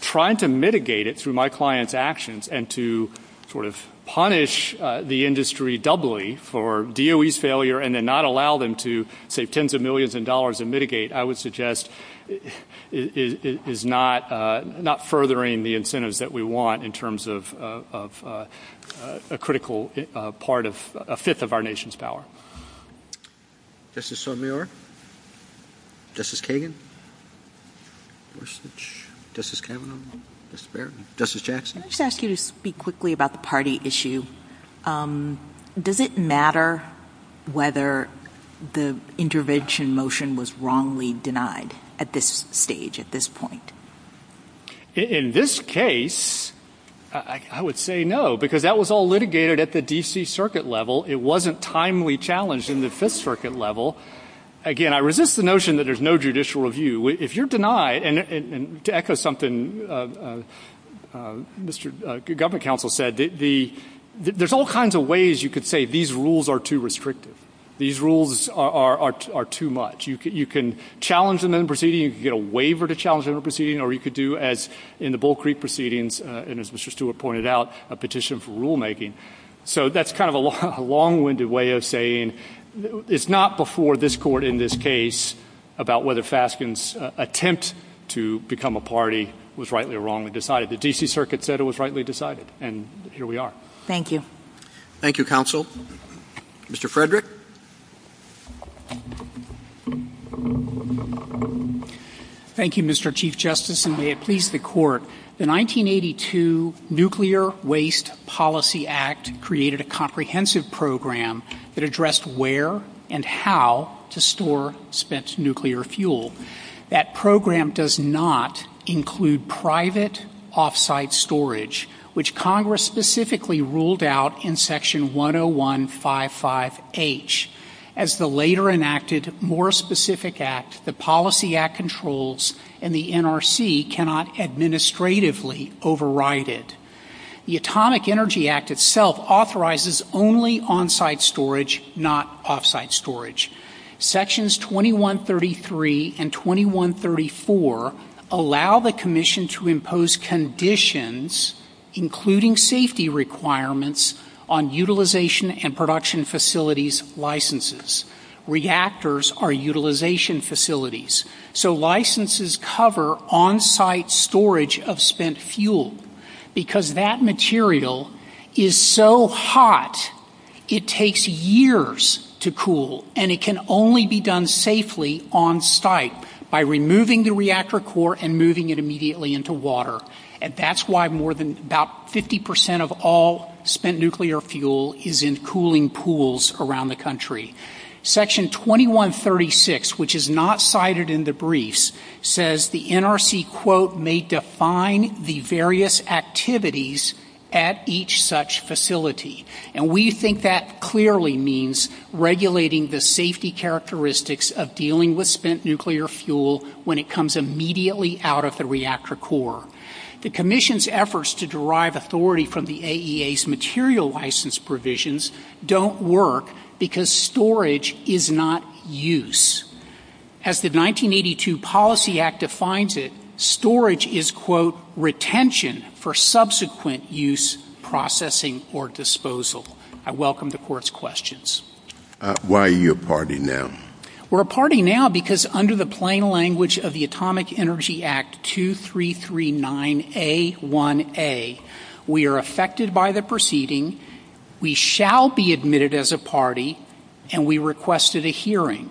Trying to mitigate it through my client's actions and to sort of punish the industry doubly for DOE's failure and then not allow them to save tens of millions of dollars and mitigate, I would suggest is not furthering the incentives that we want in terms of a critical part of... a fifth of our nation's power. Justice Sotomayor? Justice Kagan? Justice Kavanaugh? Justice Jackson? Let me just ask you to speak quickly about the party issue. Does it matter whether the intervention motion was wrongly denied at this stage, at this point? In this case, I would say no, because that was all litigated at the D.C. Circuit level. It wasn't timely challenged in the Fifth Circuit level. Again, I resist the notion that there's no judicial review. If you're denied, and to echo something Mr. Government Counsel said, there's all kinds of ways you could say these rules are too restrictive. These rules are too much. You can challenge them in a proceeding, you can get a waiver to challenge them in a proceeding, or you could do, as in the Bull Creek proceedings and as Mr. Stewart pointed out, a petition for rulemaking. So that's kind of a long-winded way of saying it's not before this court in this case about whether Faskin's attempt to become a party was rightly or wrongly decided. The D.C. Circuit said it was rightly decided, and here we are. Thank you. Thank you, Counsel. Mr. Frederick? Thank you, Mr. Chief Justice, and may it please the Court. The 1982 Nuclear Waste Policy Act created a comprehensive program that addressed where and how to store spent nuclear fuel. That program does not include private off-site storage, which Congress specifically ruled out in Section 10155H. As the later enacted more specific act, the Policy Act controls, and the NRC cannot administratively override it. The Atomic Energy Act itself authorizes only on-site storage, not off-site storage. Sections 2133 and 2134 allow the Commission to impose conditions, including safety requirements, on utilization and production facilities licenses. Reactors are utilization facilities, so licenses cover on-site storage of spent fuel because that material is so hot it takes years to cool, and it can only be done safely on-site by removing the reactor core and moving it immediately into water. And that's why more than about 50 percent of all spent nuclear fuel is in cooling pools around the country. Section 2136, which is not cited in the briefs, says the NRC, quote, may define the various activities at each such facility. And we think that clearly means regulating the safety characteristics of dealing with spent nuclear fuel when it comes immediately out of the reactor core. The Commission's efforts to derive authority from the AEA's material license provisions don't work because storage is not use. As the 1982 Policy Act defines it, storage is, quote, retention for subsequent use, processing, or disposal. I welcome the Court's questions. Why are you a party now? We're a party now because under the plain language of the Atomic Energy Act 2339A1A, we are affected by the proceeding, we shall be admitted as a party, and we requested a hearing.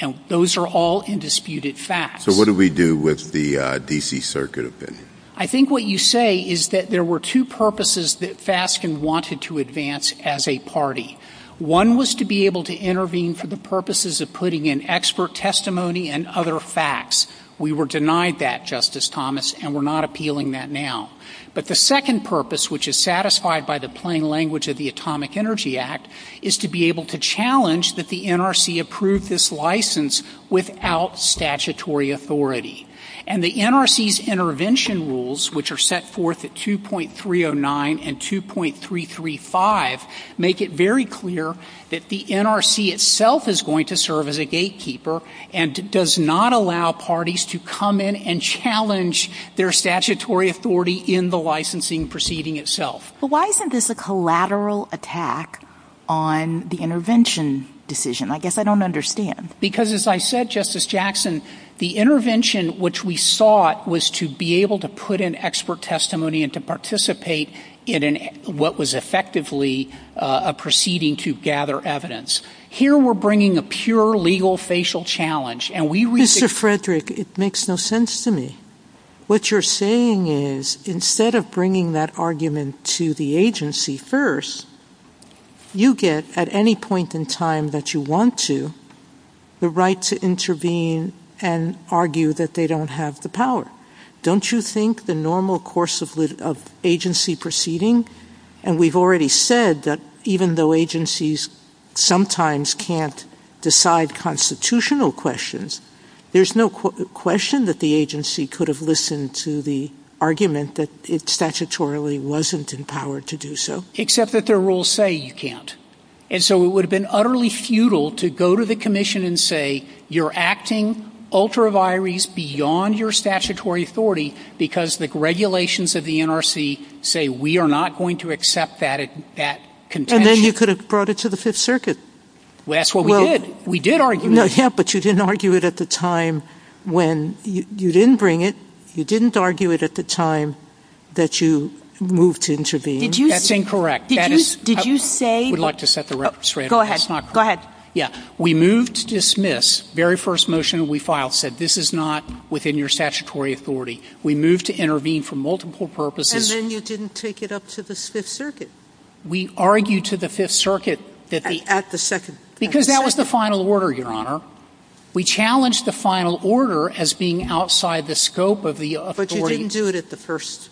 And those are all indisputed facts. So what do we do with the D.C. Circuit opinion? I think what you say is that there were two purposes that FASCN wanted to advance as a party. One was to be able to intervene for the purposes of putting in expert testimony and other facts. We were denied that, Justice Thomas, and we're not appealing that now. But the second purpose, which is satisfied by the plain language of the Atomic Energy Act, is to be able to challenge that the NRC approve this license without statutory authority. And the NRC's intervention rules, which are set forth at 2.309 and 2.335, make it very clear that the NRC itself is going to serve as a gatekeeper and does not allow parties to come in and challenge their statutory authority in the licensing proceeding itself. But why isn't this a collateral attack on the intervention decision? I guess I don't understand. Because as I said, Justice Jackson, the intervention which we sought was to be able to put in expert testimony and to participate in what was effectively a proceeding to gather evidence. Here we're bringing a pure legal facial challenge, and we really... Mr. Frederick, it makes no sense to me. What you're saying is instead of bringing that argument to the agency first, you get at any point in time that you want to the right to intervene and argue that they don't have the power. Don't you think the normal course of agency proceeding, and we've already said that even though agencies sometimes can't decide constitutional questions, there's no question that the agency could have listened to the argument that it statutorily wasn't empowered to do so? Except that their rules say you can't. And so it would have been utterly futile to go to the commission and say, you're acting ultra vires beyond your statutory authority because the regulations of the NRC say we are not going to accept that contention. And then you could have brought it to the Fifth Circuit. That's what we did. We did argue it. Yeah, but you didn't argue it at the time when you didn't bring it. You didn't argue it at the time that you moved to intervene. That's incorrect. Did you say... I would like to set the record straight. Go ahead. Yeah. We moved to dismiss. Very first motion we filed said this is not within your statutory authority. We moved to intervene for multiple purposes. And then you didn't take it up to the Fifth Circuit. We argued to the Fifth Circuit that the... At the second... Because that was the final order, Your Honor. We challenged the final order as being outside the scope of the authority... But you didn't do it at the first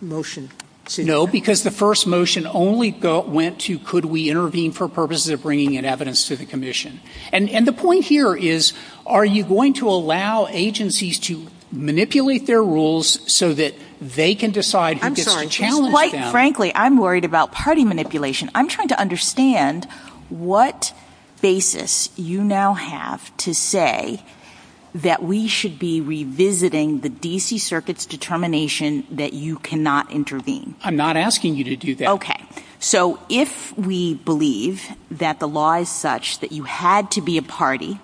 motion. No, because the first motion only went to could we intervene for purposes of bringing in evidence to the commission. And the point here is are you going to allow agencies to manipulate their rules so that they can decide who gets challenged... Quite frankly, I'm worried about party manipulation. I'm trying to understand what basis you now have to say that we should be revisiting the D.C. Circuit's determination that you cannot intervene. I'm not asking you to do that. So if we believe that the law is such that you had to be a party,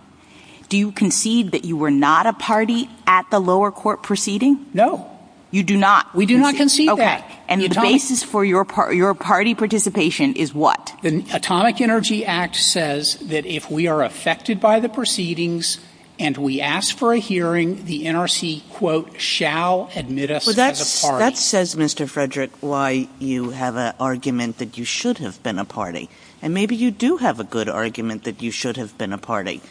do you concede that you were not a party at the lower court proceeding? No. You do not. We do not concede that. And the basis for your party participation is what? The Atomic Energy Act says that if we are affected by the proceedings and we ask for a hearing, the NRC, quote, shall admit us as a party. That says, Mr. Frederick, why you have an argument that you should have been a party. And maybe you do have a good argument that you should have been a party.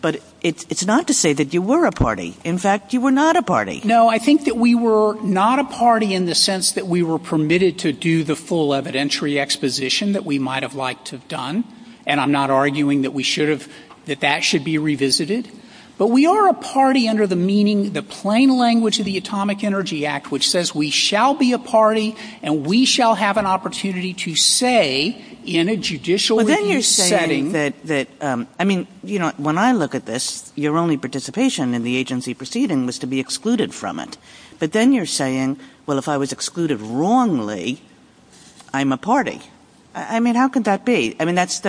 But it's not to say that you were a party. In fact, you were not a party. No, I think that we were not a party in the sense that we were permitted to do the full evidentiary exposition that we might have liked to have done. And I'm not arguing that we should have, that that should be revisited. But we are a party under the meaning, the plain language of the Atomic Energy Act, which says we shall be a party and we shall have an opportunity to say in a judicial review setting. I mean, you know, when I look at this, your only participation in the agency proceeding was to be excluded from it. But then you're saying, well, if I was excluded wrongly, I'm a party. I mean, how could that be? I mean, that's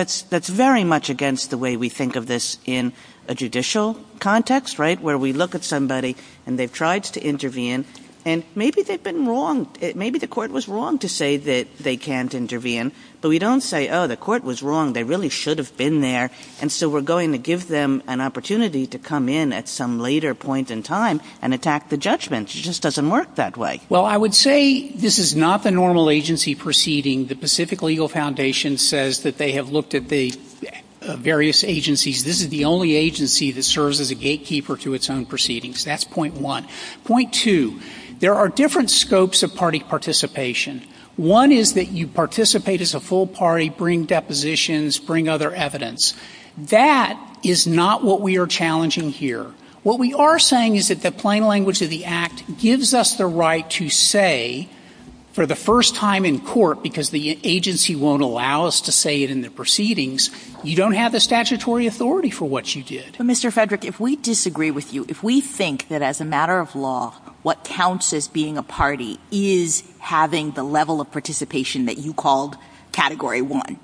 very much against the way we think of this in a judicial context, right, where we look at somebody and they've tried to intervene. And maybe they've been wrong. Maybe the court was wrong to say that they can't intervene. But we don't say, oh, the court was wrong. They really should have been there. And so we're going to give them an opportunity to come in at some later point in time and attack the judgment. It just doesn't work that way. Well, I would say this is not the normal agency proceeding. The Pacific Legal Foundation says that they have looked at the various agencies. This is the only agency that serves as a gatekeeper to its own proceedings. That's point one. Point two, there are different scopes of party participation. One is that you participate as a full party, bring depositions, bring other evidence. That is not what we are challenging here. What we are saying is that the plain language of the Act gives us the right to say for the first time in court, because the agency won't allow us to say it in the proceedings, you don't have the statutory authority for what you did. So, Mr. Frederick, if we disagree with you, if we think that as a matter of law, what counts as being a party is having the level of participation that you called Category 1,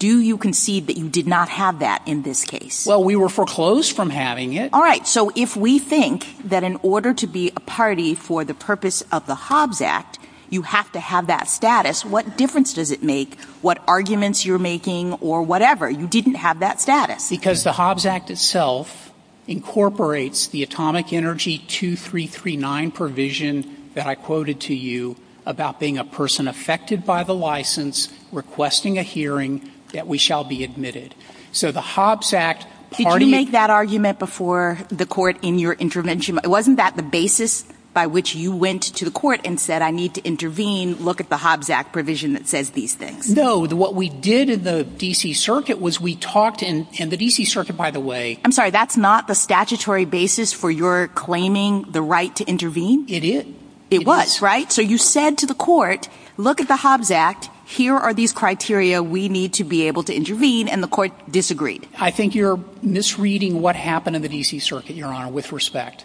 do you concede that you did not have that in this case? Well, we were foreclosed from having it. All right. So if we think that in order to be a party for the purpose of the Hobbs Act, you have to have that status, what difference does it make what arguments you're making or whatever? You didn't have that status. Because the Hobbs Act itself incorporates the Atomic Energy 2339 provision that I quoted to you about being a person affected by the license, requesting a hearing, that we shall be admitted. So the Hobbs Act... Did you make that argument before the court in your intervention? Wasn't that the basis by which you went to the court and said, I need to intervene, look at the Hobbs Act provision that says these things? No. What we did in the D.C. Circuit was we talked, and the D.C. Circuit, by the way... I'm sorry, that's not the statutory basis for your claiming the right to intervene? It is. It was, right? So you said to the court, look at the Hobbs Act, here are these criteria we need to be able to intervene, and the court disagreed. I think you're misreading what happened in the D.C. Circuit, Your Honor, with respect.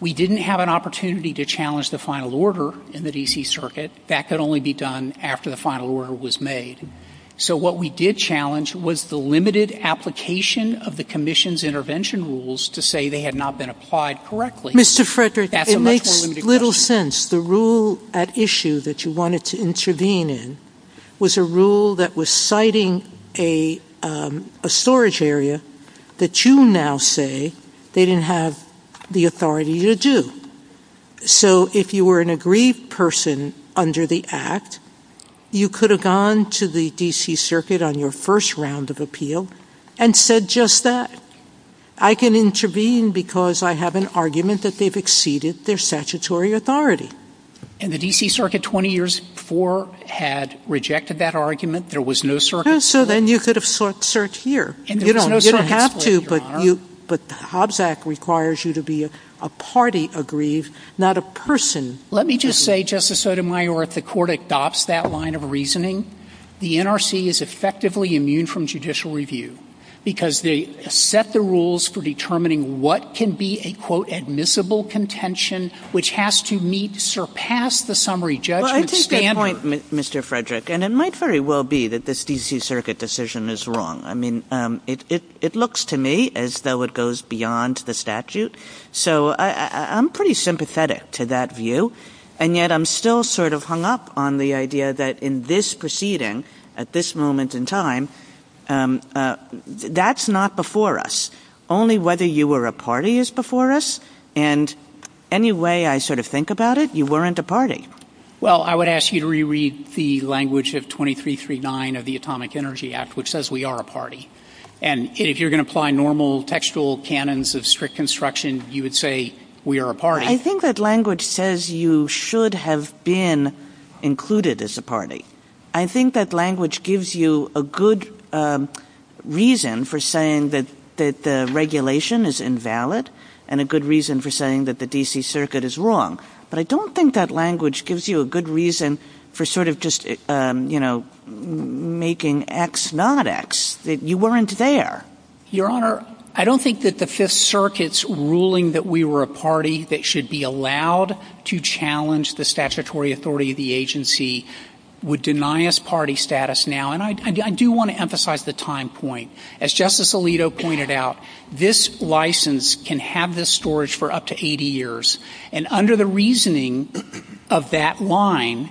We didn't have an opportunity to challenge the final order in the D.C. Circuit. That could only be done after the final order was made. So what we did challenge was the limited application of the commission's intervention rules to say they had not been applied correctly. Mr. Frederick, it makes little sense. The rule at issue that you wanted to intervene in was a rule that was citing a storage area that you now say they didn't have the authority to do. So if you were an agreed person under the Act, you could have gone to the D.C. Circuit on your first round of appeal and said just that. I can intervene because I have an argument that they've exceeded their statutory authority. And the D.C. Circuit 20 years before had rejected that argument? There was no circuit? So then you could have served here. You don't have to, but the Hobbs Act requires you to be a party agreed, not a person. Let me just say, Justice Sotomayor, if the court adopts that line of reasoning, the NRC is effectively immune from judicial review. Because they set the rules for determining what can be a, quote, admissible contention, which has to meet, surpass the summary judgment standard. Well, I think that point, Mr. Frederick, and it might very well be that this D.C. Circuit decision is wrong. I mean, it looks to me as though it goes beyond the statute. So I'm pretty sympathetic to that view. And yet I'm still sort of hung up on the idea that in this proceeding, at this moment in time, that's not before us. Only whether you were a party is before us. And any way I sort of think about it, you weren't a party. Well, I would ask you to reread the language of 2339 of the Atomic Energy Act, which says we are a party. And if you're going to apply normal textual canons of strict construction, you would say we are a party. I think that language says you should have been included as a party. I think that language gives you a good reason for saying that regulation is invalid and a good reason for saying that the D.C. Circuit is wrong. But I don't think that language gives you a good reason for sort of just, you know, making X not X, that you weren't there. Your Honor, I don't think that the Fifth Circuit's ruling that we were a party that should be allowed to challenge the statutory authority of the agency would deny us party status now. And I do want to emphasize the time point. As Justice Alito pointed out, this license can have this storage for up to 80 years. And under the reasoning of that line,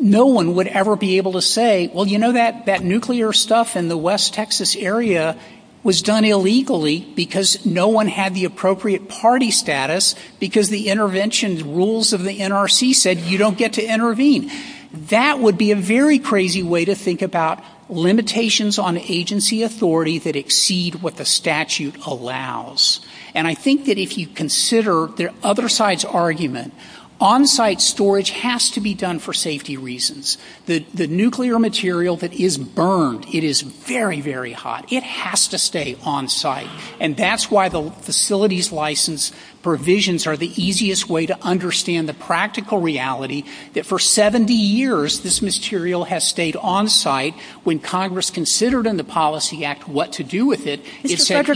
no one would ever be able to say, well, you know, that nuclear stuff in the West Texas area was done illegally because no one had the appropriate party status because the intervention rules of the NRC said you don't get to intervene. That would be a very crazy way to think about limitations on agency authority that exceed what the statute allows. And I think that if you consider the other side's argument, on-site storage has to be done for safety reasons. The nuclear material that is burned, it is very, very hot. It has to stay on-site. And that's why the facilities license provisions are the easiest way to understand the practical reality that for 70 years this material has stayed on-site when Congress considered in the policy act what to do with it. You said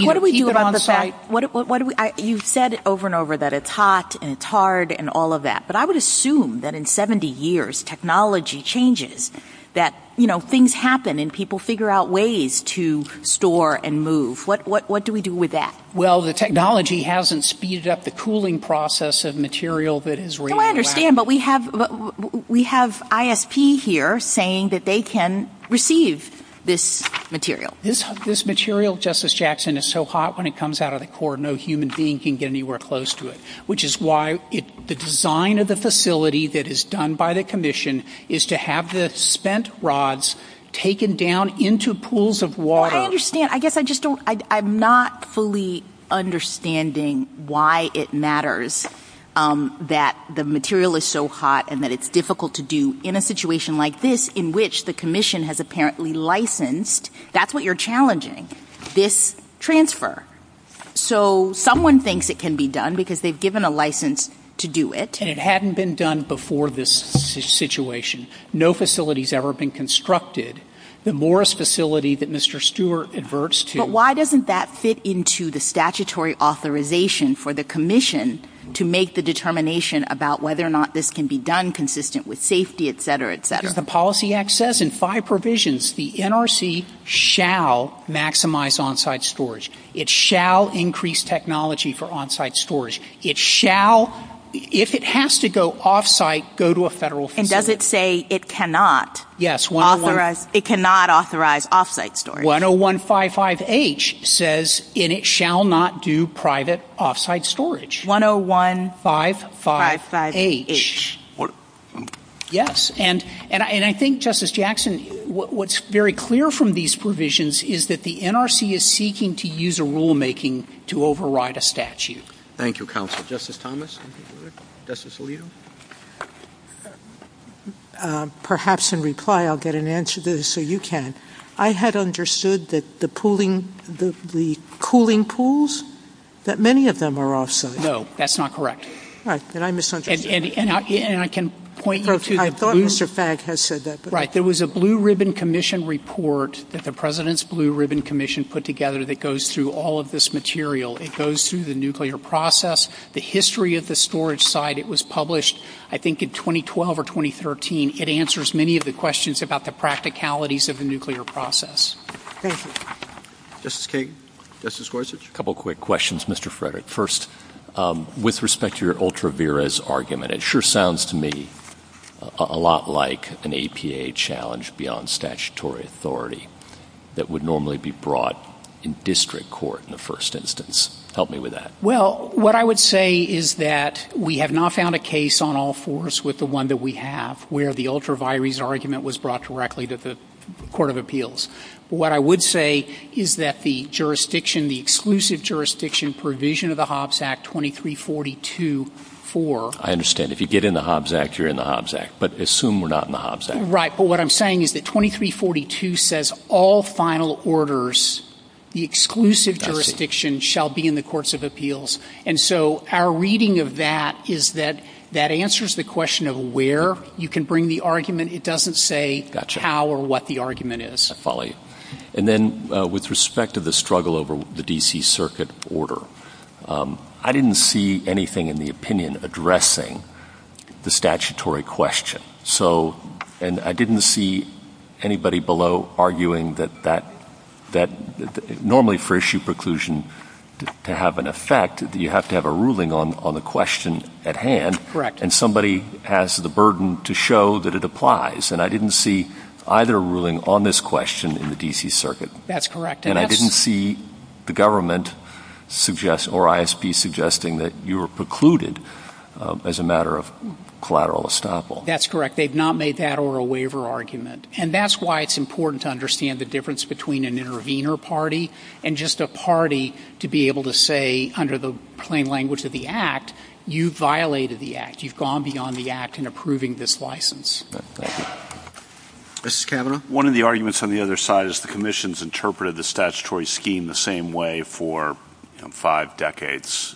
over and over that it's hot and it's hard and all of that. But I would assume that in 70 years technology changes, that, you know, things happen and people figure out ways to store and move. What do we do with that? Well, the technology hasn't speeded up the cooling process of material that is radioactive. I understand, but we have ISP here saying that they can receive this material. This material, Justice Jackson, is so hot when it comes out of the core, no human being can get anywhere close to it. Which is why the design of the facility that is done by the commission is to have the spent rods taken down into pools of water. I'm not fully understanding why it matters that the material is so hot and that it's difficult to do in a situation like this in which the commission has apparently licensed, that's what you're challenging, this transfer. So someone thinks it can be done because they've given a license to do it. And it hadn't been done before this situation. The more facility, no facility has ever been constructed, the more facility that Mr. Stewart adverts to. But why doesn't that fit into the statutory authorization for the commission to make the determination about whether or not this can be done consistent with safety, etc., etc.? The policy act says in five provisions the NRC shall maximize on-site storage. It shall increase technology for on-site storage. It shall, if it has to go off-site, go to a federal facility. And does it say it cannot? Yes. It cannot authorize off-site storage. 10155H says it shall not do private off-site storage. 10155H. Yes. And I think, Justice Jackson, what's very clear from these provisions is that the NRC is seeking to use a rulemaking to override a statute. Thank you, counsel. Justice Thomas? Justice Alito? Perhaps in reply I'll get an answer to this so you can. I had understood that the cooling pools, that many of them are off-site. No. That's not correct. Right. And I misunderstood. And I can point you to the blue... I thought Mr. Fagg has said that. Right. There was a Blue Ribbon Commission report that the President's Blue Ribbon Commission put together that goes through all of this material. It goes through the nuclear process, the history of the storage site. It was published, I think, in 2012 or 2013. It answers many of the questions about the practicalities of the nuclear process. Thank you. Justice Kagan? Justice Gorsuch? A couple quick questions, Mr. Frederick. First, with respect to your Ultra Viras argument, it sure sounds to me a lot like an APA challenge beyond statutory authority that would normally be brought in district court in the first instance. Help me with that. Well, what I would say is that we have not found a case on all fours with the one that we have where the Ultra Viras argument was brought directly to the Court of Appeals. What I would say is that the jurisdiction, the exclusive jurisdiction provision of the Hobbs Act 2342 for... I understand. If you get in the Hobbs Act, you're in the Hobbs Act. But assume we're not in the Hobbs Act. Right. But what I'm saying is that 2342 says all final orders, the exclusive jurisdiction, shall be in the Courts of Appeals. And so our reading of that is that that answers the question of where you can bring the argument. It doesn't say how or what the argument is. I follow you. And then with respect to the struggle over the D.C. Circuit order, I didn't see anything in the opinion addressing the statutory question. And I didn't see anybody below arguing that normally for issue preclusion to have an effect, you have to have a ruling on the question at hand. Correct. And somebody has the burden to show that it applies. And I didn't see either ruling on this question in the D.C. Circuit. That's correct. And I didn't see the government or ISP suggesting that you were precluded as a matter of collateral estoppel. That's correct. They've not made that oral waiver argument. And that's why it's important to understand the difference between an intervener party and just a party to be able to say under the plain language of the Act, you've violated the Act. You've gone beyond the Act in approving this license. Justice Kavanaugh? One of the arguments on the other side is the Commission's interpreted the statutory scheme the same way for five decades,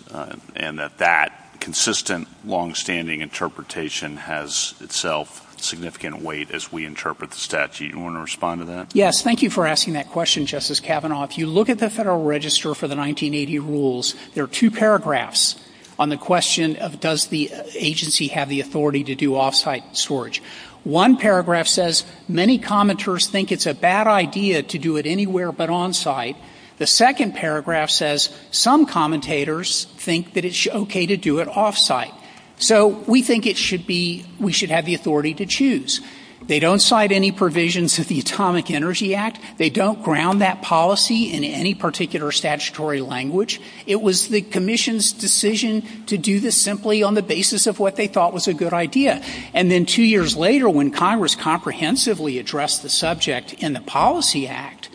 and that that consistent longstanding interpretation has itself significant weight as we interpret the statute. Do you want to respond to that? Yes. Thank you for asking that question, Justice Kavanaugh. If you look at the Federal Register for the 1980 rules, there are two paragraphs on the question of does the agency have the authority to do off-site storage. One paragraph says many commenters think it's a bad idea to do it anywhere but on-site. The second paragraph says some commentators think that it's okay to do it off-site. So we think we should have the authority to choose. They don't cite any provisions of the Atomic Energy Act. They don't ground that policy in any particular statutory language. It was the Commission's decision to do this simply on the basis of what they thought was a good idea. And then two years later, when Congress comprehensively addressed the subject in the Policy Act,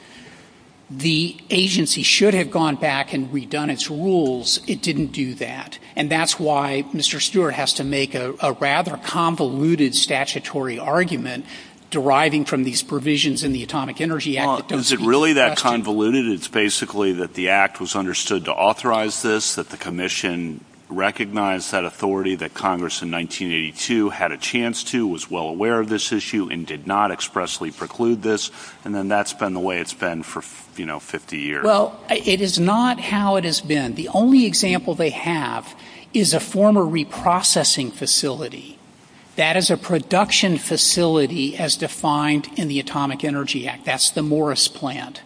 the agency should have gone back and redone its rules. It didn't do that. And that's why Mr. Stewart has to make a rather convoluted statutory argument deriving from these provisions in the Atomic Energy Act. Is it really that convoluted? It's basically that the Act was understood to authorize this, that the Commission recognized that authority that Congress in 1982 had a chance to, was well aware of this issue, and did not expressly preclude this, and then that's been the way it's been for, you know, 50 years? Well, it is not how it has been. The only example they have is a former reprocessing facility. That is a production facility as defined in the Atomic Energy Act. That's the Morris plant.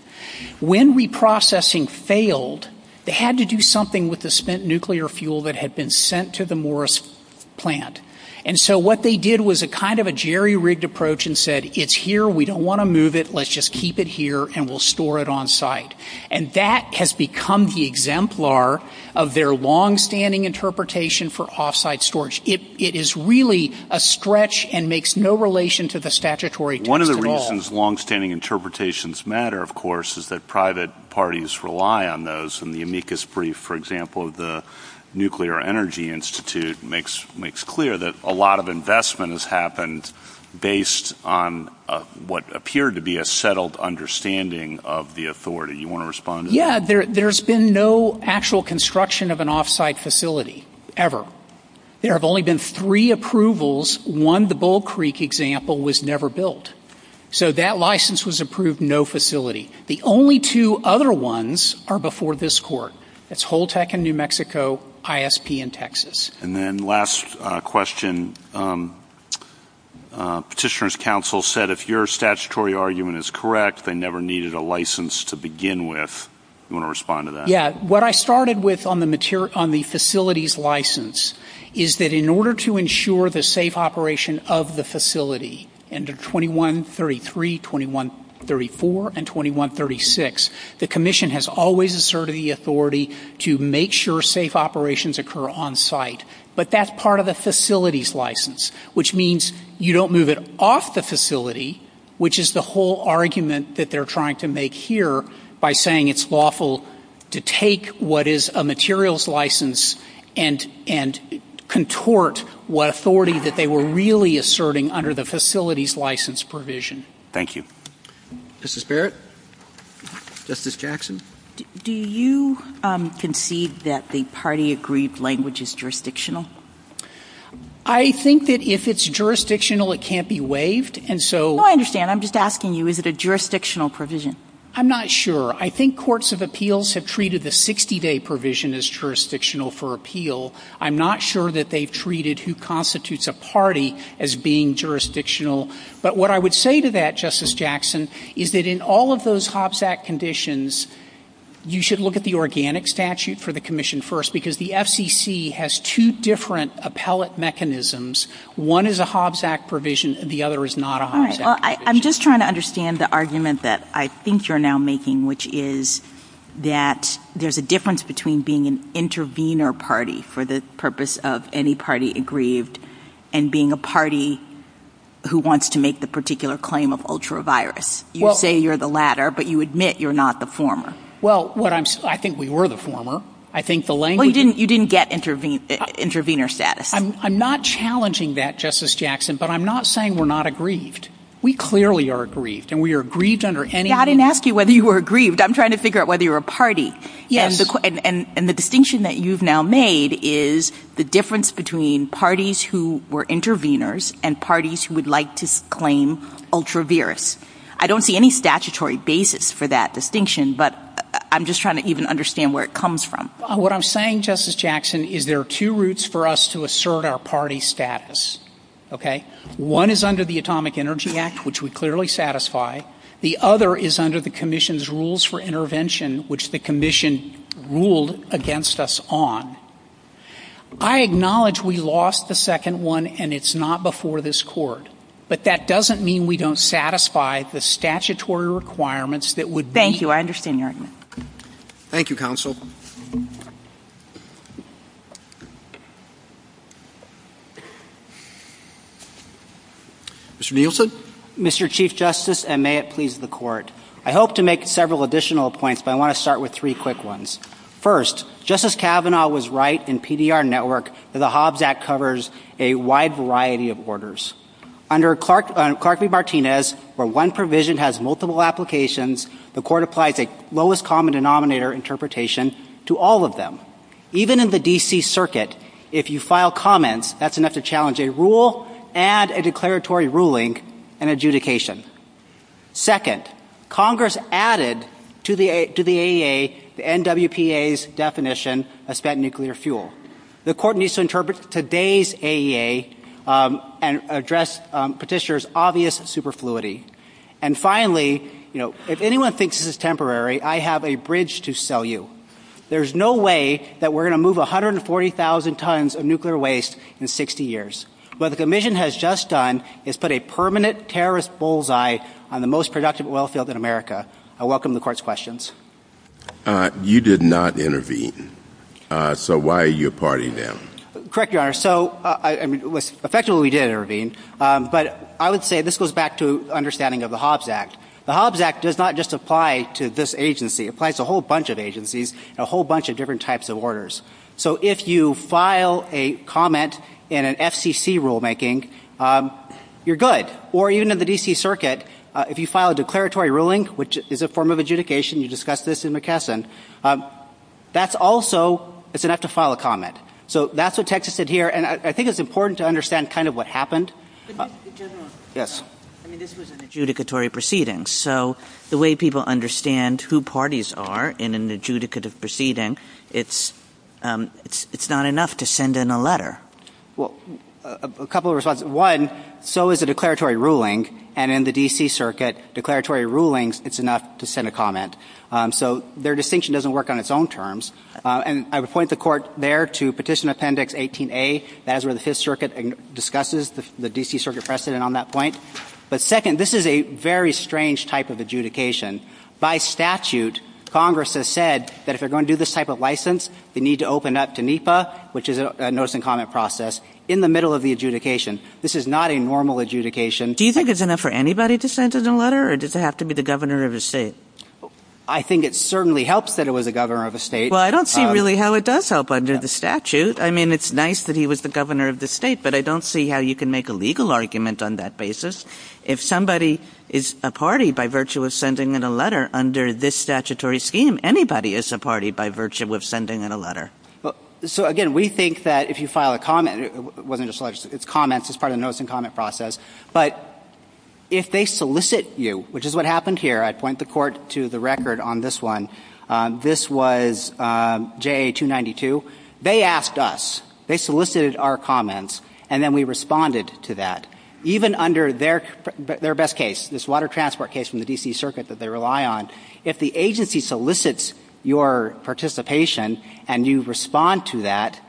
When reprocessing failed, they had to do something with the spent nuclear fuel that had been sent to the Morris plant. And so what they did was a kind of a jerry-rigged approach and said, it's here, we don't want to move it, let's just keep it here and we'll store it on site. And that has become the exemplar of their longstanding interpretation for offsite storage. It is really a stretch and makes no relation to the statutory text at all. One of the reasons longstanding interpretations matter, of course, is that private parties rely on those. In the amicus brief, for example, the Nuclear Energy Institute makes clear that a lot of investment has happened based on what appeared to be a settled understanding of the authority. You want to respond to that? Yeah, there's been no actual construction of an offsite facility, ever. There have only been three approvals. One, the Bull Creek example, was never built. So that license was approved, no facility. The only two other ones are before this court. That's Holtec in New Mexico, ISP in Texas. And then last question. Petitioner's counsel said if your statutory argument is correct, they never needed a license to begin with. You want to respond to that? Yeah, what I started with on the facilities license is that in order to ensure the safe operation of the facility, under 2133, 2134, and 2136, the commission has always asserted the authority to make sure safe operations occur on site. But that's part of the facilities license, which means you don't move it off the facility, which is the whole argument that they're trying to make here by saying it's lawful to take what is a materials license and contort what authority that they were really asserting under the facilities license provision. Thank you. Justice Barrett? Justice Jackson? Do you concede that the party-agreed language is jurisdictional? I think that if it's jurisdictional, it can't be waived, and so... No, I understand. I'm just asking you, is it a jurisdictional provision? I'm not sure. I think courts of appeals have treated the 60-day provision as jurisdictional for appeal. I'm not sure that they've treated who constitutes a party as being jurisdictional. But what I would say to that, Justice Jackson, is that in all of those Hobbs Act conditions, you should look at the organic statute for the commission first, because the FCC has two different appellate mechanisms. One is a Hobbs Act provision, and the other is not Hobbs Act. I'm just trying to understand the argument that I think you're now making, which is that there's a difference between being an intervener party for the purpose of any party aggrieved and being a party who wants to make the particular claim of ultra-virus. You say you're the latter, but you admit you're not the former. Well, I think we were the former. You didn't get intervener status. I'm not challenging that, Justice Jackson, but I'm not saying we're not aggrieved. We clearly are aggrieved, and we are aggrieved under any rule. I didn't ask you whether you were aggrieved. I'm trying to figure out whether you're a party. And the distinction that you've now made is the difference between parties who were interveners and parties who would like to claim ultra-virus. I don't see any statutory basis for that distinction, but I'm just trying to even understand where it comes from. What I'm saying, Justice Jackson, is there are two routes for us to assert our party status. One is under the Atomic Energy Act, which we clearly satisfy. The other is under the commission's rules for intervention, which the commission ruled against us on. I acknowledge we lost the second one, and it's not before this court, but that doesn't mean we don't satisfy the statutory requirements that would... Thank you. I understand your argument. Thank you, counsel. Mr. Nielsen? Mr. Chief Justice, and may it please the court, I hope to make several additional points, but I want to start with three quick ones. First, Justice Kavanaugh was right in PDR Network that the Hobbs Act covers a wide variety of orders. Under Clark v. Martinez, where one provision has multiple applications, the court applies a lowest common denominator interpretation to all of them. Even in the D.C. Circuit, if you file comments, that's enough to challenge a rule and a declaratory ruling and adjudication. Second, Congress added to the AEA the NWPA's definition of spent nuclear fuel. The court needs to interpret today's AEA and address Petitioner's obvious superfluity. And finally, if anyone thinks this is temporary, I have a bridge to sell you. There's no way that we're going to move 140,000 tons of nuclear waste in 60 years. What the commission has just done is put a permanent terrorist bullseye on the most productive oil field in America. I welcome the court's questions. You did not intervene. So why are you apparting now? Correct, Your Honor. So, I mean, effectively we did intervene, but I would say this goes back to understanding of the Hobbs Act. The Hobbs Act does not just apply to this agency. It applies to a whole bunch of agencies and a whole bunch of different types of orders. So if you file a comment in an FCC rulemaking, you're good. Or even in the D.C. Circuit, if you file a declaratory ruling, which is a form of adjudication, you discussed this in McKesson, that's also enough to file a comment. So that's what Texas did here, and I think it's important to understand kind of what happened. Yes. I mean, this was an adjudicatory proceeding, so the way people understand who parties are in an adjudicative proceeding, it's not enough to send in a letter. Well, a couple of responses. One, so is a declaratory ruling, and in the D.C. Circuit, declaratory rulings, it's enough to send a comment. So their distinction doesn't work on its own terms. And I would point the Court there to Petition Appendix 18A. That's where the Fifth Circuit discusses the D.C. Circuit precedent on that point. But second, this is a very strange type of adjudication. By statute, Congress has said that if they're going to do this type of license, they need to open up to NIFA, which is a notice and comment process, in the middle of the adjudication. This is not a normal adjudication. Do you think it's enough for anybody to send in a letter, or does it have to be the governor of a state? I think it certainly helps that it was the governor of a state. Well, I don't see really how it does help under the statute. I mean, it's nice that he was the governor of the state, but I don't see how you can make a legal argument on that basis. If somebody is a party, by virtue of sending in a letter under this statutory scheme, anybody is a party by virtue of sending in a letter. So, again, we think that if you file a comment, it's comments, it's part of the notice and comment process, but if they solicit you, which is what happened here, I point the court to the record on this one, this was J.A. 292, they asked us, they solicited our comments, and then we responded to that. Even under their best case, this water transport case from the D.C. Circuit that they rely on, if the agency solicits your participation and you respond to that,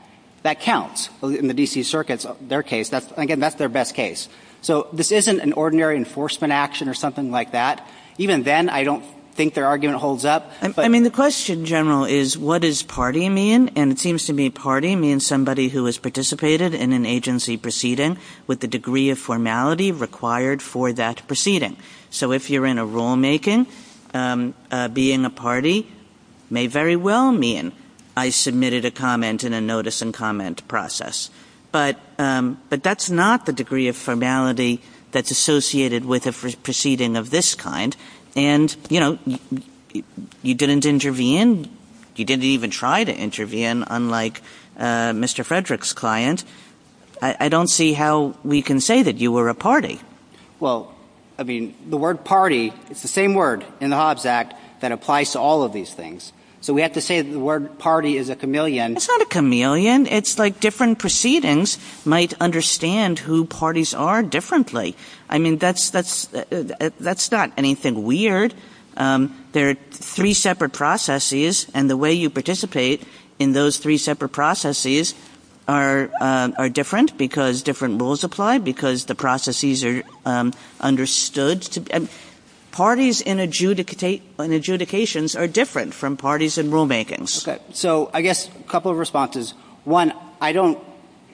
that counts. In the D.C. Circuit's, their case, again, that's their best case. So this isn't an ordinary enforcement action or something like that. Even then, I don't think their argument holds up. I mean, the question, in general, is what does party mean? And it seems to me party means somebody who has participated in an agency proceeding with the degree of formality required for that proceeding. So if you're in a rulemaking, being a party may very well mean I submitted a comment in a notice and comment process. But that's not the degree of formality that's associated with a proceeding of this kind. And, you know, you didn't intervene, you didn't even try to intervene, unlike Mr. Frederick's client. I don't see how we can say that you were a party. Well, I mean, the word party, it's the same word in the Hobbs Act that applies to all of these things. So we have to say the word party is a chameleon. It's not a chameleon. It's like different proceedings might understand who parties are differently. I mean, that's not anything weird. There are 3 separate processes, and the way you participate in those 3 separate processes are different because different rules apply, because the processes are understood. Parties in adjudications are different from parties in rulemakings. Okay, so I guess a couple of responses. One, I don't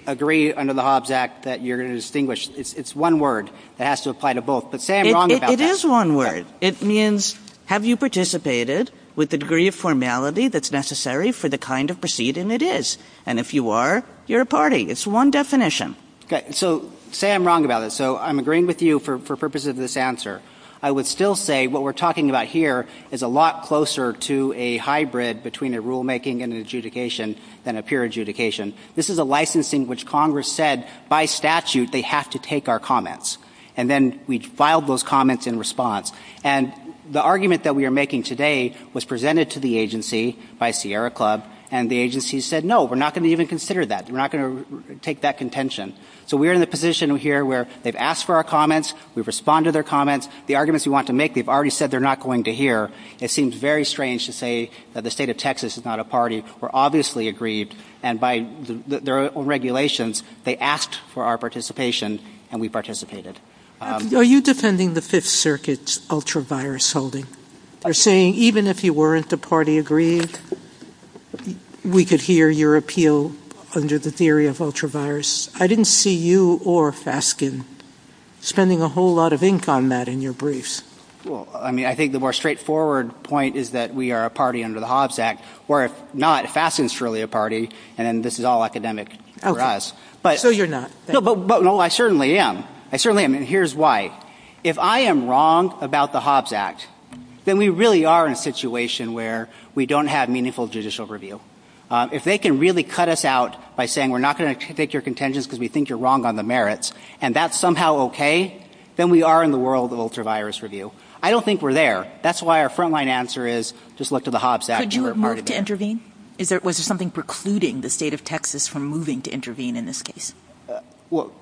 agree under the Hobbs Act that you're going to distinguish. It's one word that has to apply to both. But say I'm wrong about that. It is one word. It means have you participated with the degree of formality that's necessary for the kind of proceeding it is? And if you are, you're a party. It's one definition. Okay, so say I'm wrong about it. So I'm agreeing with you for purposes of this answer. I would still say what we're talking about here is a lot closer to a hybrid between a rulemaking and an adjudication than a pure adjudication. This is a licensing which Congress said, by statute, they have to take our comments. And then we filed those comments in response. And the argument that we are making today was presented to the agency by Sierra Club, and the agency said, no, we're not going to even consider that. We're not going to take that contention. So we're in a position here where they've asked for our comments. We've responded to their comments. The arguments we want to make, we've already said they're not going to hear. It seems very strange to say that the state of Texas is not a party. We're obviously agreed. And by their own regulations, they asked for our participation, and we participated. Are you defending the Fifth Circuit's ultra-virus holding? Are you saying even if you weren't, the party agreed, we could hear your appeal under the theory of ultra-virus? I didn't see you or Faskin spending a whole lot of ink on that in your briefs. I think the more straightforward point is that we are a party under the Hobbs Act, or if not, Faskin's truly a party, and this is all academic for us. So you're not. No, I certainly am. I certainly am, and here's why. If I am wrong about the Hobbs Act, then we really are in a situation where we don't have meaningful judicial review. If they can really cut us out by saying we're not going to take your contention because we think you're wrong on the merits, and that's somehow okay, then we are in the world of ultra-virus review. I don't think we're there. That's why our front-line answer is just look to the Hobbs Act. Did you move to intervene? Was something precluding the state of Texas from moving to intervene in this case?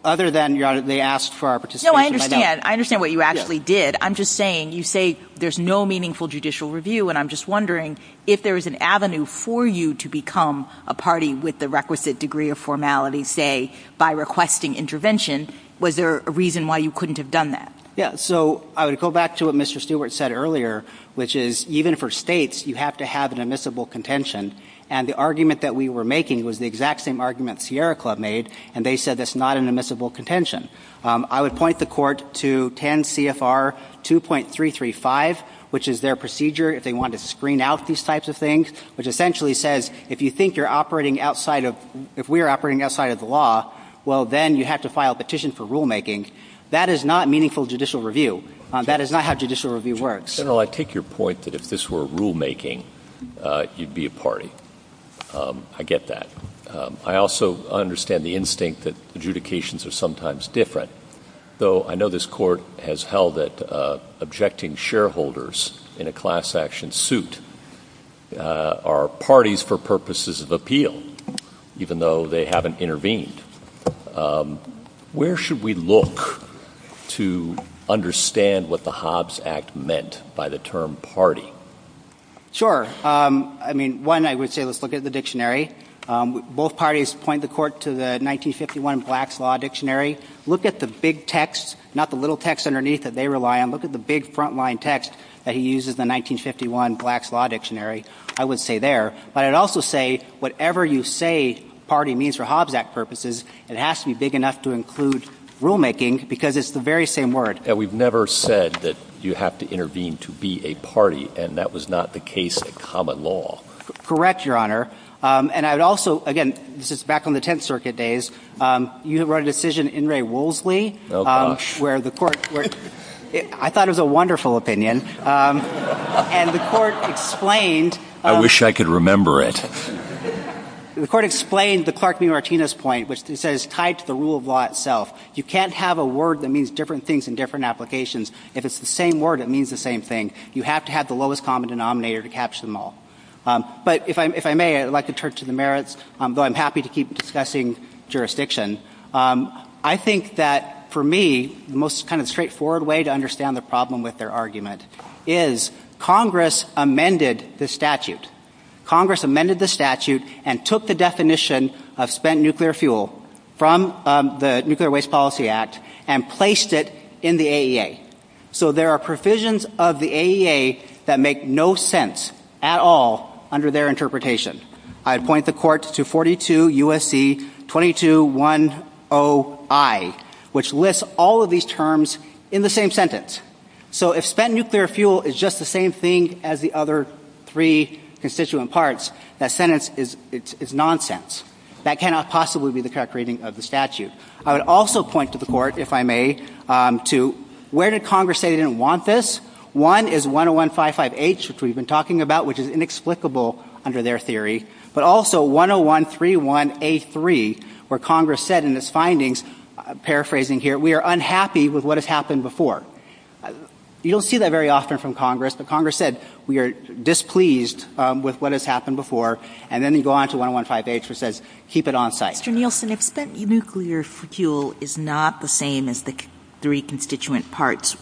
Other than they asked for our participation. No, I understand. I understand what you actually did. I'm just saying you say there's no meaningful judicial review, and I'm just wondering if there's an avenue for you to become a party with the requisite degree of formality, say, by requesting intervention. Was there a reason why you couldn't have done that? Yeah, so I would go back to what Mr. Stewart said earlier, which is even for states, you have to have an admissible contention, and the argument that we were making was the exact same argument Sierra Club made, and they said it's not an admissible contention. I would point the court to 10 CFR 2.335, which is their procedure. If they want to screen out these types of things, which essentially says if you think you're operating outside of... If we're operating outside of the law, well, then you have to file a petition for rulemaking. That is not meaningful judicial review. That is not how judicial review works. General, I take your point that if this were rulemaking, you'd be a party. I get that. I also understand the instinct that adjudications are sometimes different, though I know this court has held that objecting shareholders in a class action suit are parties for purposes of appeal, even though they haven't intervened. Where should we look to understand what the Hobbs Act meant by the term party? Sure. I mean, one, I would say, let's look at the dictionary. Both parties point the court to the 1951 Black's Law Dictionary. Look at the big text, not the little text underneath it. That's what they rely on. Look at the big front-line text that he uses in the 1951 Black's Law Dictionary. I would say there. But I'd also say whatever you say party means for Hobbs Act purposes, it has to be big enough to include rulemaking because it's the very same word. Yeah, we've never said that you have to intervene to be a party, and that was not the case in common law. Correct, Your Honor. And I'd also, again, this is back on the Tenth Circuit days, you run a decision, In re Wolseley, where the court... I thought it was a wonderful opinion. And the court explained... I wish I could remember it. The court explained the Clark v. Martinez point, which it says, tied to the rule of law itself. You can't have a word that means different things in different applications. If it's the same word, it means the same thing. You have to have the lowest common denominator to capture them all. But if I may, I'd like to turn to the merits, though I'm happy to keep discussing jurisdiction. I think that, for me, the most kind of straightforward way to understand the problem with their argument is Congress amended the statute. Congress amended the statute and took the definition of spent nuclear fuel from the Nuclear Waste Policy Act and placed it in the AEA. So there are provisions of the AEA that make no sense at all under their interpretation. I'd point the court to 42 U.S.C. 2210I, which lists all of these terms in the same sentence. So if spent nuclear fuel is just the same thing as the other three constituent parts, that sentence is nonsense. That cannot possibly be the correct reading of the statute. I would also point to the court, if I may, to where did Congress say they didn't want this? One is 10155H, which we've been talking about, which is inexplicable under their theory. But also 10131A3, where Congress said in its findings, paraphrasing here, we are unhappy with what has happened before. You don't see that very often from Congress, but Congress said we are displeased with what has happened before. And then you go on to 115H which says keep it on site. If spent nuclear fuel is not the same as the three constituent parts,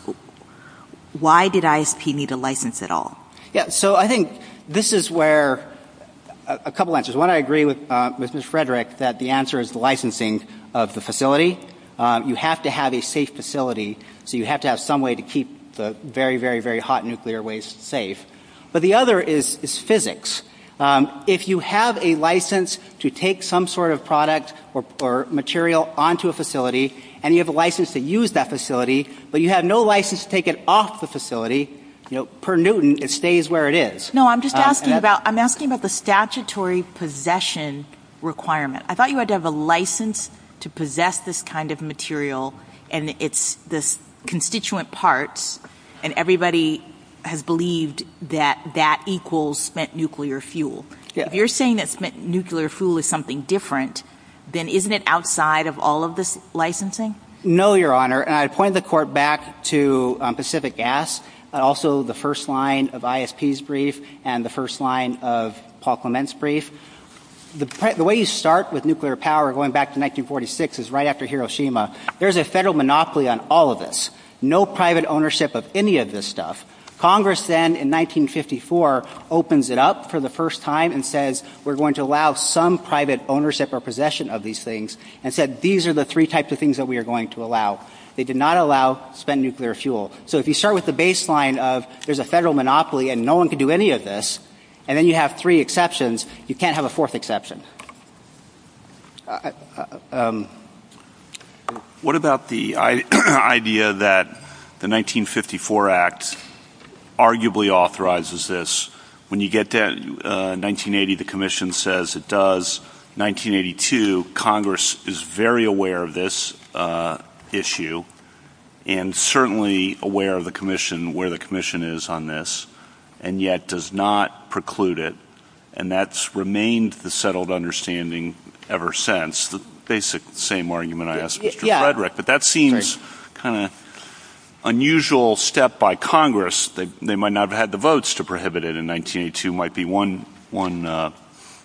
why did ISP need a license at all? I think this is where a couple answers. One, I agree with Mr. Frederick that the answer is the licensing of the facility. You have to have a safe facility, so you have to have some way to keep the very, very, very hot nuclear waste safe. But the other is physics. If you have a license to take some sort of product or material onto a facility and you have a license to use that facility, but you have no license to take it off the facility, per Newton, it stays where it is. No, I'm just asking about the statutory possession requirement. I thought you had to have a license to possess this kind of material and it's the constituent parts and everybody has believed that that equals spent nuclear fuel. If you're saying that spent nuclear fuel is something different, then isn't it outside of all of this licensing? No, Your Honor. And I point the court back to Pacific Gas. Also, the first line of ISP's brief and the first line of Paul Clement's brief. The way you start with nuclear power going back to 1946 is right after Hiroshima. There's a federal monopoly on all of this. No private ownership of any of this stuff. Congress then, in 1954, opens it up for the first time and says, we're going to allow some private ownership or possession of these things and said, these are the three types of things that we are going to allow. They did not allow spent nuclear fuel. So if you start with the baseline of there's a federal monopoly and no one can do any of this and then you have three exceptions, you can't have a fourth exception. What about the idea that the 1954 Act arguably authorizes this? When you get to 1980, the commission says it does. 1982, Congress is very aware of this issue and certainly aware of where the commission is on this and yet does not preclude it and that's remained the settled understanding ever since. The basic same argument I asked Mr. Frederick. But that seems kind of unusual step by Congress that they might not have had the votes to prohibit it in 1982 might be one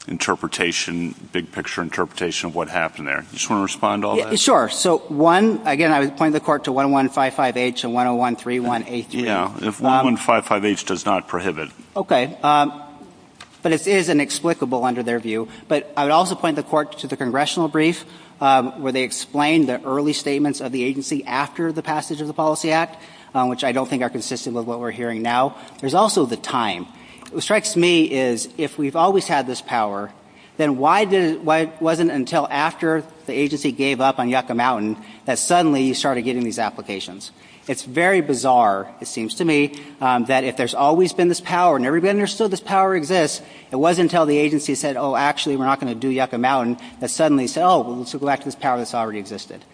interpretation, big picture interpretation of what happened there. You just want to respond to all that? Sure. So one, again, I would point the court to 1155H and 113182. 1155H does not prohibit. Okay. But it is inexplicable under their view. But I would also point the court to the congressional brief where they explain the early statements of the agency after the passage of the policy act which I don't think are consistent with what we're hearing now. There's also the time. What strikes me is if we've always had this power then why wasn't it until after the agency gave up on Yucca Mountain that suddenly you started getting these applications. It's very bizarre it seems to me that if there's always been this power and there's still this power exists it wasn't until the agency said oh actually we're not going to do Yucca Mountain that suddenly said oh let's go back to this power that's already existed.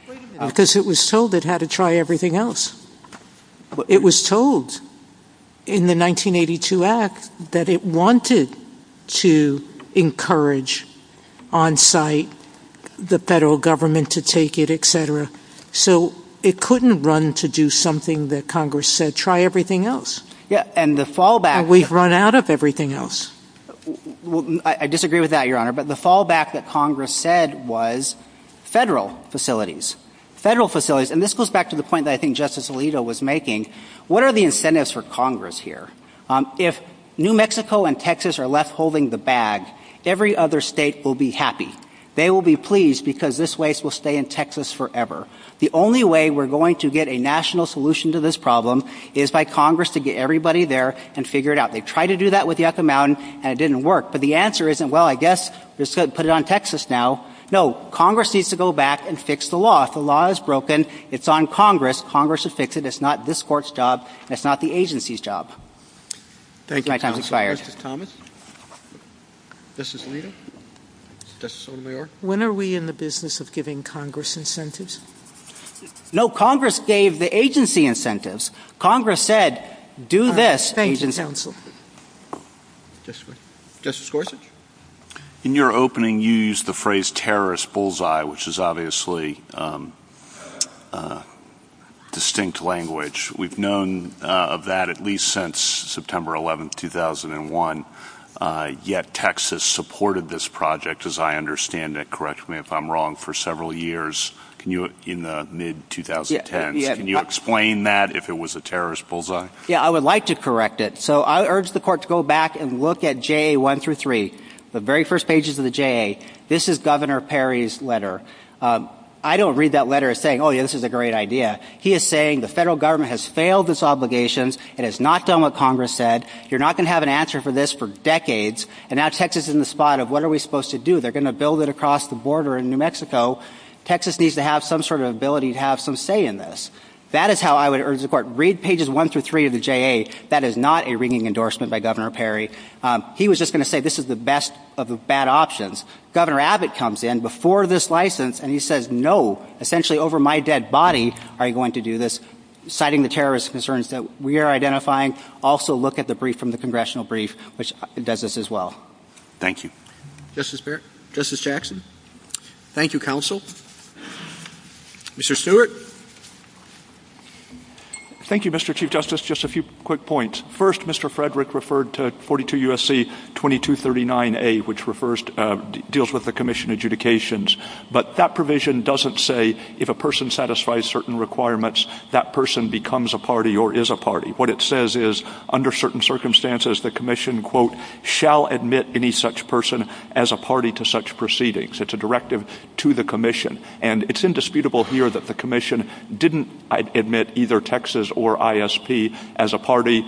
Because it was told it had to try everything else. It was told in the 1982 act that it wanted to encourage on site the federal government to take it etc. So it couldn't run to do something that Congress said try everything else. And the fallback We've run out of everything else. I disagree with that Your Honor. But the fallback that Congress said was federal facilities. Federal facilities. And this goes back to the point that I think Justice Alito was making. What are the incentives for Congress here? If New Mexico and Texas are left holding the bag every other state will be happy. They will be pleased because this waste will stay in Texas forever. The only way we're going to get a national solution to this problem is by Congress to get everybody there and figure it out. They tried to do that with the Yucca Mountain and it didn't work. But the answer isn't well I guess put it on Texas now. No. Congress needs to go back and fix the law. If the law is broken it's on Congress. Congress will fix it. It's not this court's job. It's not the agency's job. Thank you. My time has expired. Mr. Thomas. Mrs. Alito. Justice O'Neill. When are we in the business of giving Congress incentives? No. Congress gave the agency incentives. Congress said do this. Thank you counsel. Justice Gorsuch. In your opening you used the phrase terrorist bullseye which is obviously distinct language. We've known of that at least since September 11, 2001 yet Texas supported this project as I understand it. Correct me if I'm wrong. Can you explain that if it was a terrorist bullseye? I would like to correct it. I urge the court to go back and look at J.A. 1-3 the very first pages of the J.A. This is Governor Perry's letter. I don't read that letter as saying this is a great idea. He is saying the federal government has failed its obligations and has not done what Congress said. You're not going to have an answer for this for decades and now Texas is in the spot of what are we supposed to do? They're going to build it across the border in New Mexico. Texas needs to have some sort of ability to have some say in this. That is how I would urge the court to read pages 1-3 of the J.A. That is not a ringing endorsement by Governor Perry. He was just going to say this is the best of the bad options. Governor Abbott comes in before this license and he says no, essentially over my dead body are you going to do this citing the terrorist concerns that we are identifying. Also look at the brief from the congressional brief which does this as well. Thank you. Justice Jackson? Thank you, Counsel. Mr. Stewart? Thank you, Mr. Chief Justice. Just a few quick points. First, Mr. Frederick referred to 42 U.S.C. 2239A which refers to deals with the commission adjudications. But that provision doesn't say if a person satisfies certain requirements that person becomes a party or is a party. What it says is under certain circumstances the commission quote shall admit any such person as a party to such proceedings. It's a directive to the commission. And it's indisputable here that the commission didn't admit either Texas or ISP as a party.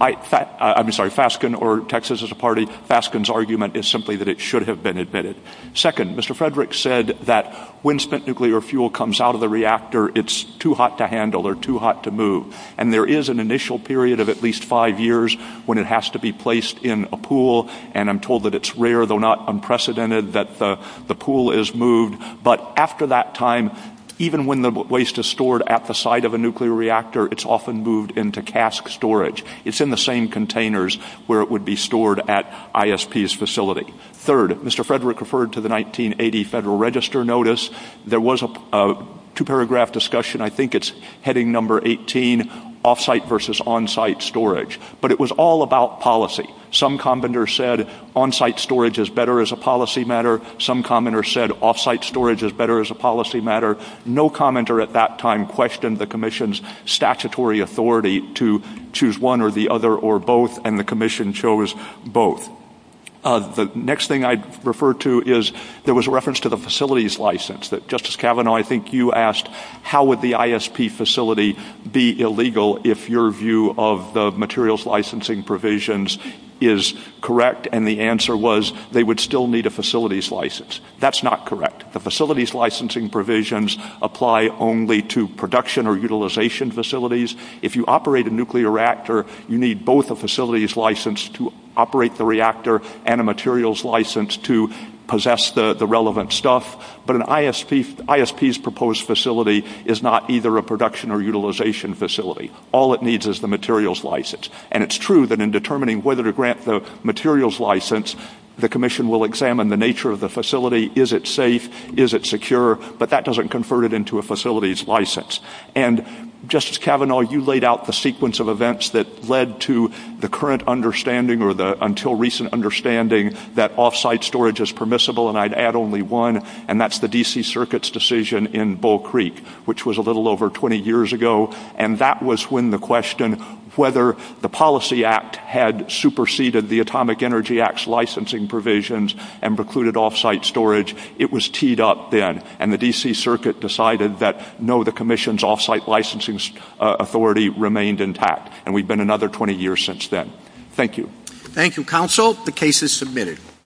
I'm sorry, Fasken or Texas as a party. Fasken's argument is simply that it should have been admitted. Second, Mr. Frederick said that when spent nuclear fuel comes out of the reactor it's too hot to handle or too hot to move. And there is an initial period of at least five years when it has to be placed in a pool and I'm told that it's rare though not unprecedented that the pool is moved but after that time even when the waste is stored at the site of a nuclear reactor it's often moved into cask storage. It's in the same containers where it would be stored at ISP's facility. Third, Mr. Frederick referred to the 1980 Federal Register notice. There was a two-paragraph discussion I think it's heading number 18 off-site versus on-site storage. But it was all about policy. Some commenters said on-site storage is better as a policy matter. Some commenters said off-site storage is better as a policy matter. No commenter at that time questioned the Commission's statutory authority to choose one or the other or both and the Commission chose both. The next thing I'd refer to is there was a reference to the facilities license that Justice Kavanaugh I think you asked how would the ISP facility be illegal if your view of the materials licensing provisions is correct and the answer was they would still need a facilities license. That's not correct. The facilities licensing provisions apply only to production or utilization facilities. If you operate a nuclear reactor you need both a facilities license to operate the reactor and a materials license to possess the relevant stuff. But an ISP's proposed facility is not either a production or utilization facility. All it needs is the materials license. And it's true that in determining whether to grant the materials license the Commission will examine the nature of the facility. Is it safe? Is it secure? But that doesn't convert it into a facilities license. And Justice Kavanaugh you laid out the sequence of events that led to the current understanding or the until recent understanding that offsite storage is permissible and I'd add only one and that's the D.C. Circuit's decision in Bull Creek which was a little over 20 years ago and that was when the question whether the Policy Act had superseded the Atomic Energy Act's licensing provisions and precluded offsite storage. It was teed up then and the D.C. Circuit decided that no the Commission's offsite licensing authority remained intact and we've been another 20 years since then. Thank you. Thank you Counsel. The case is submitted.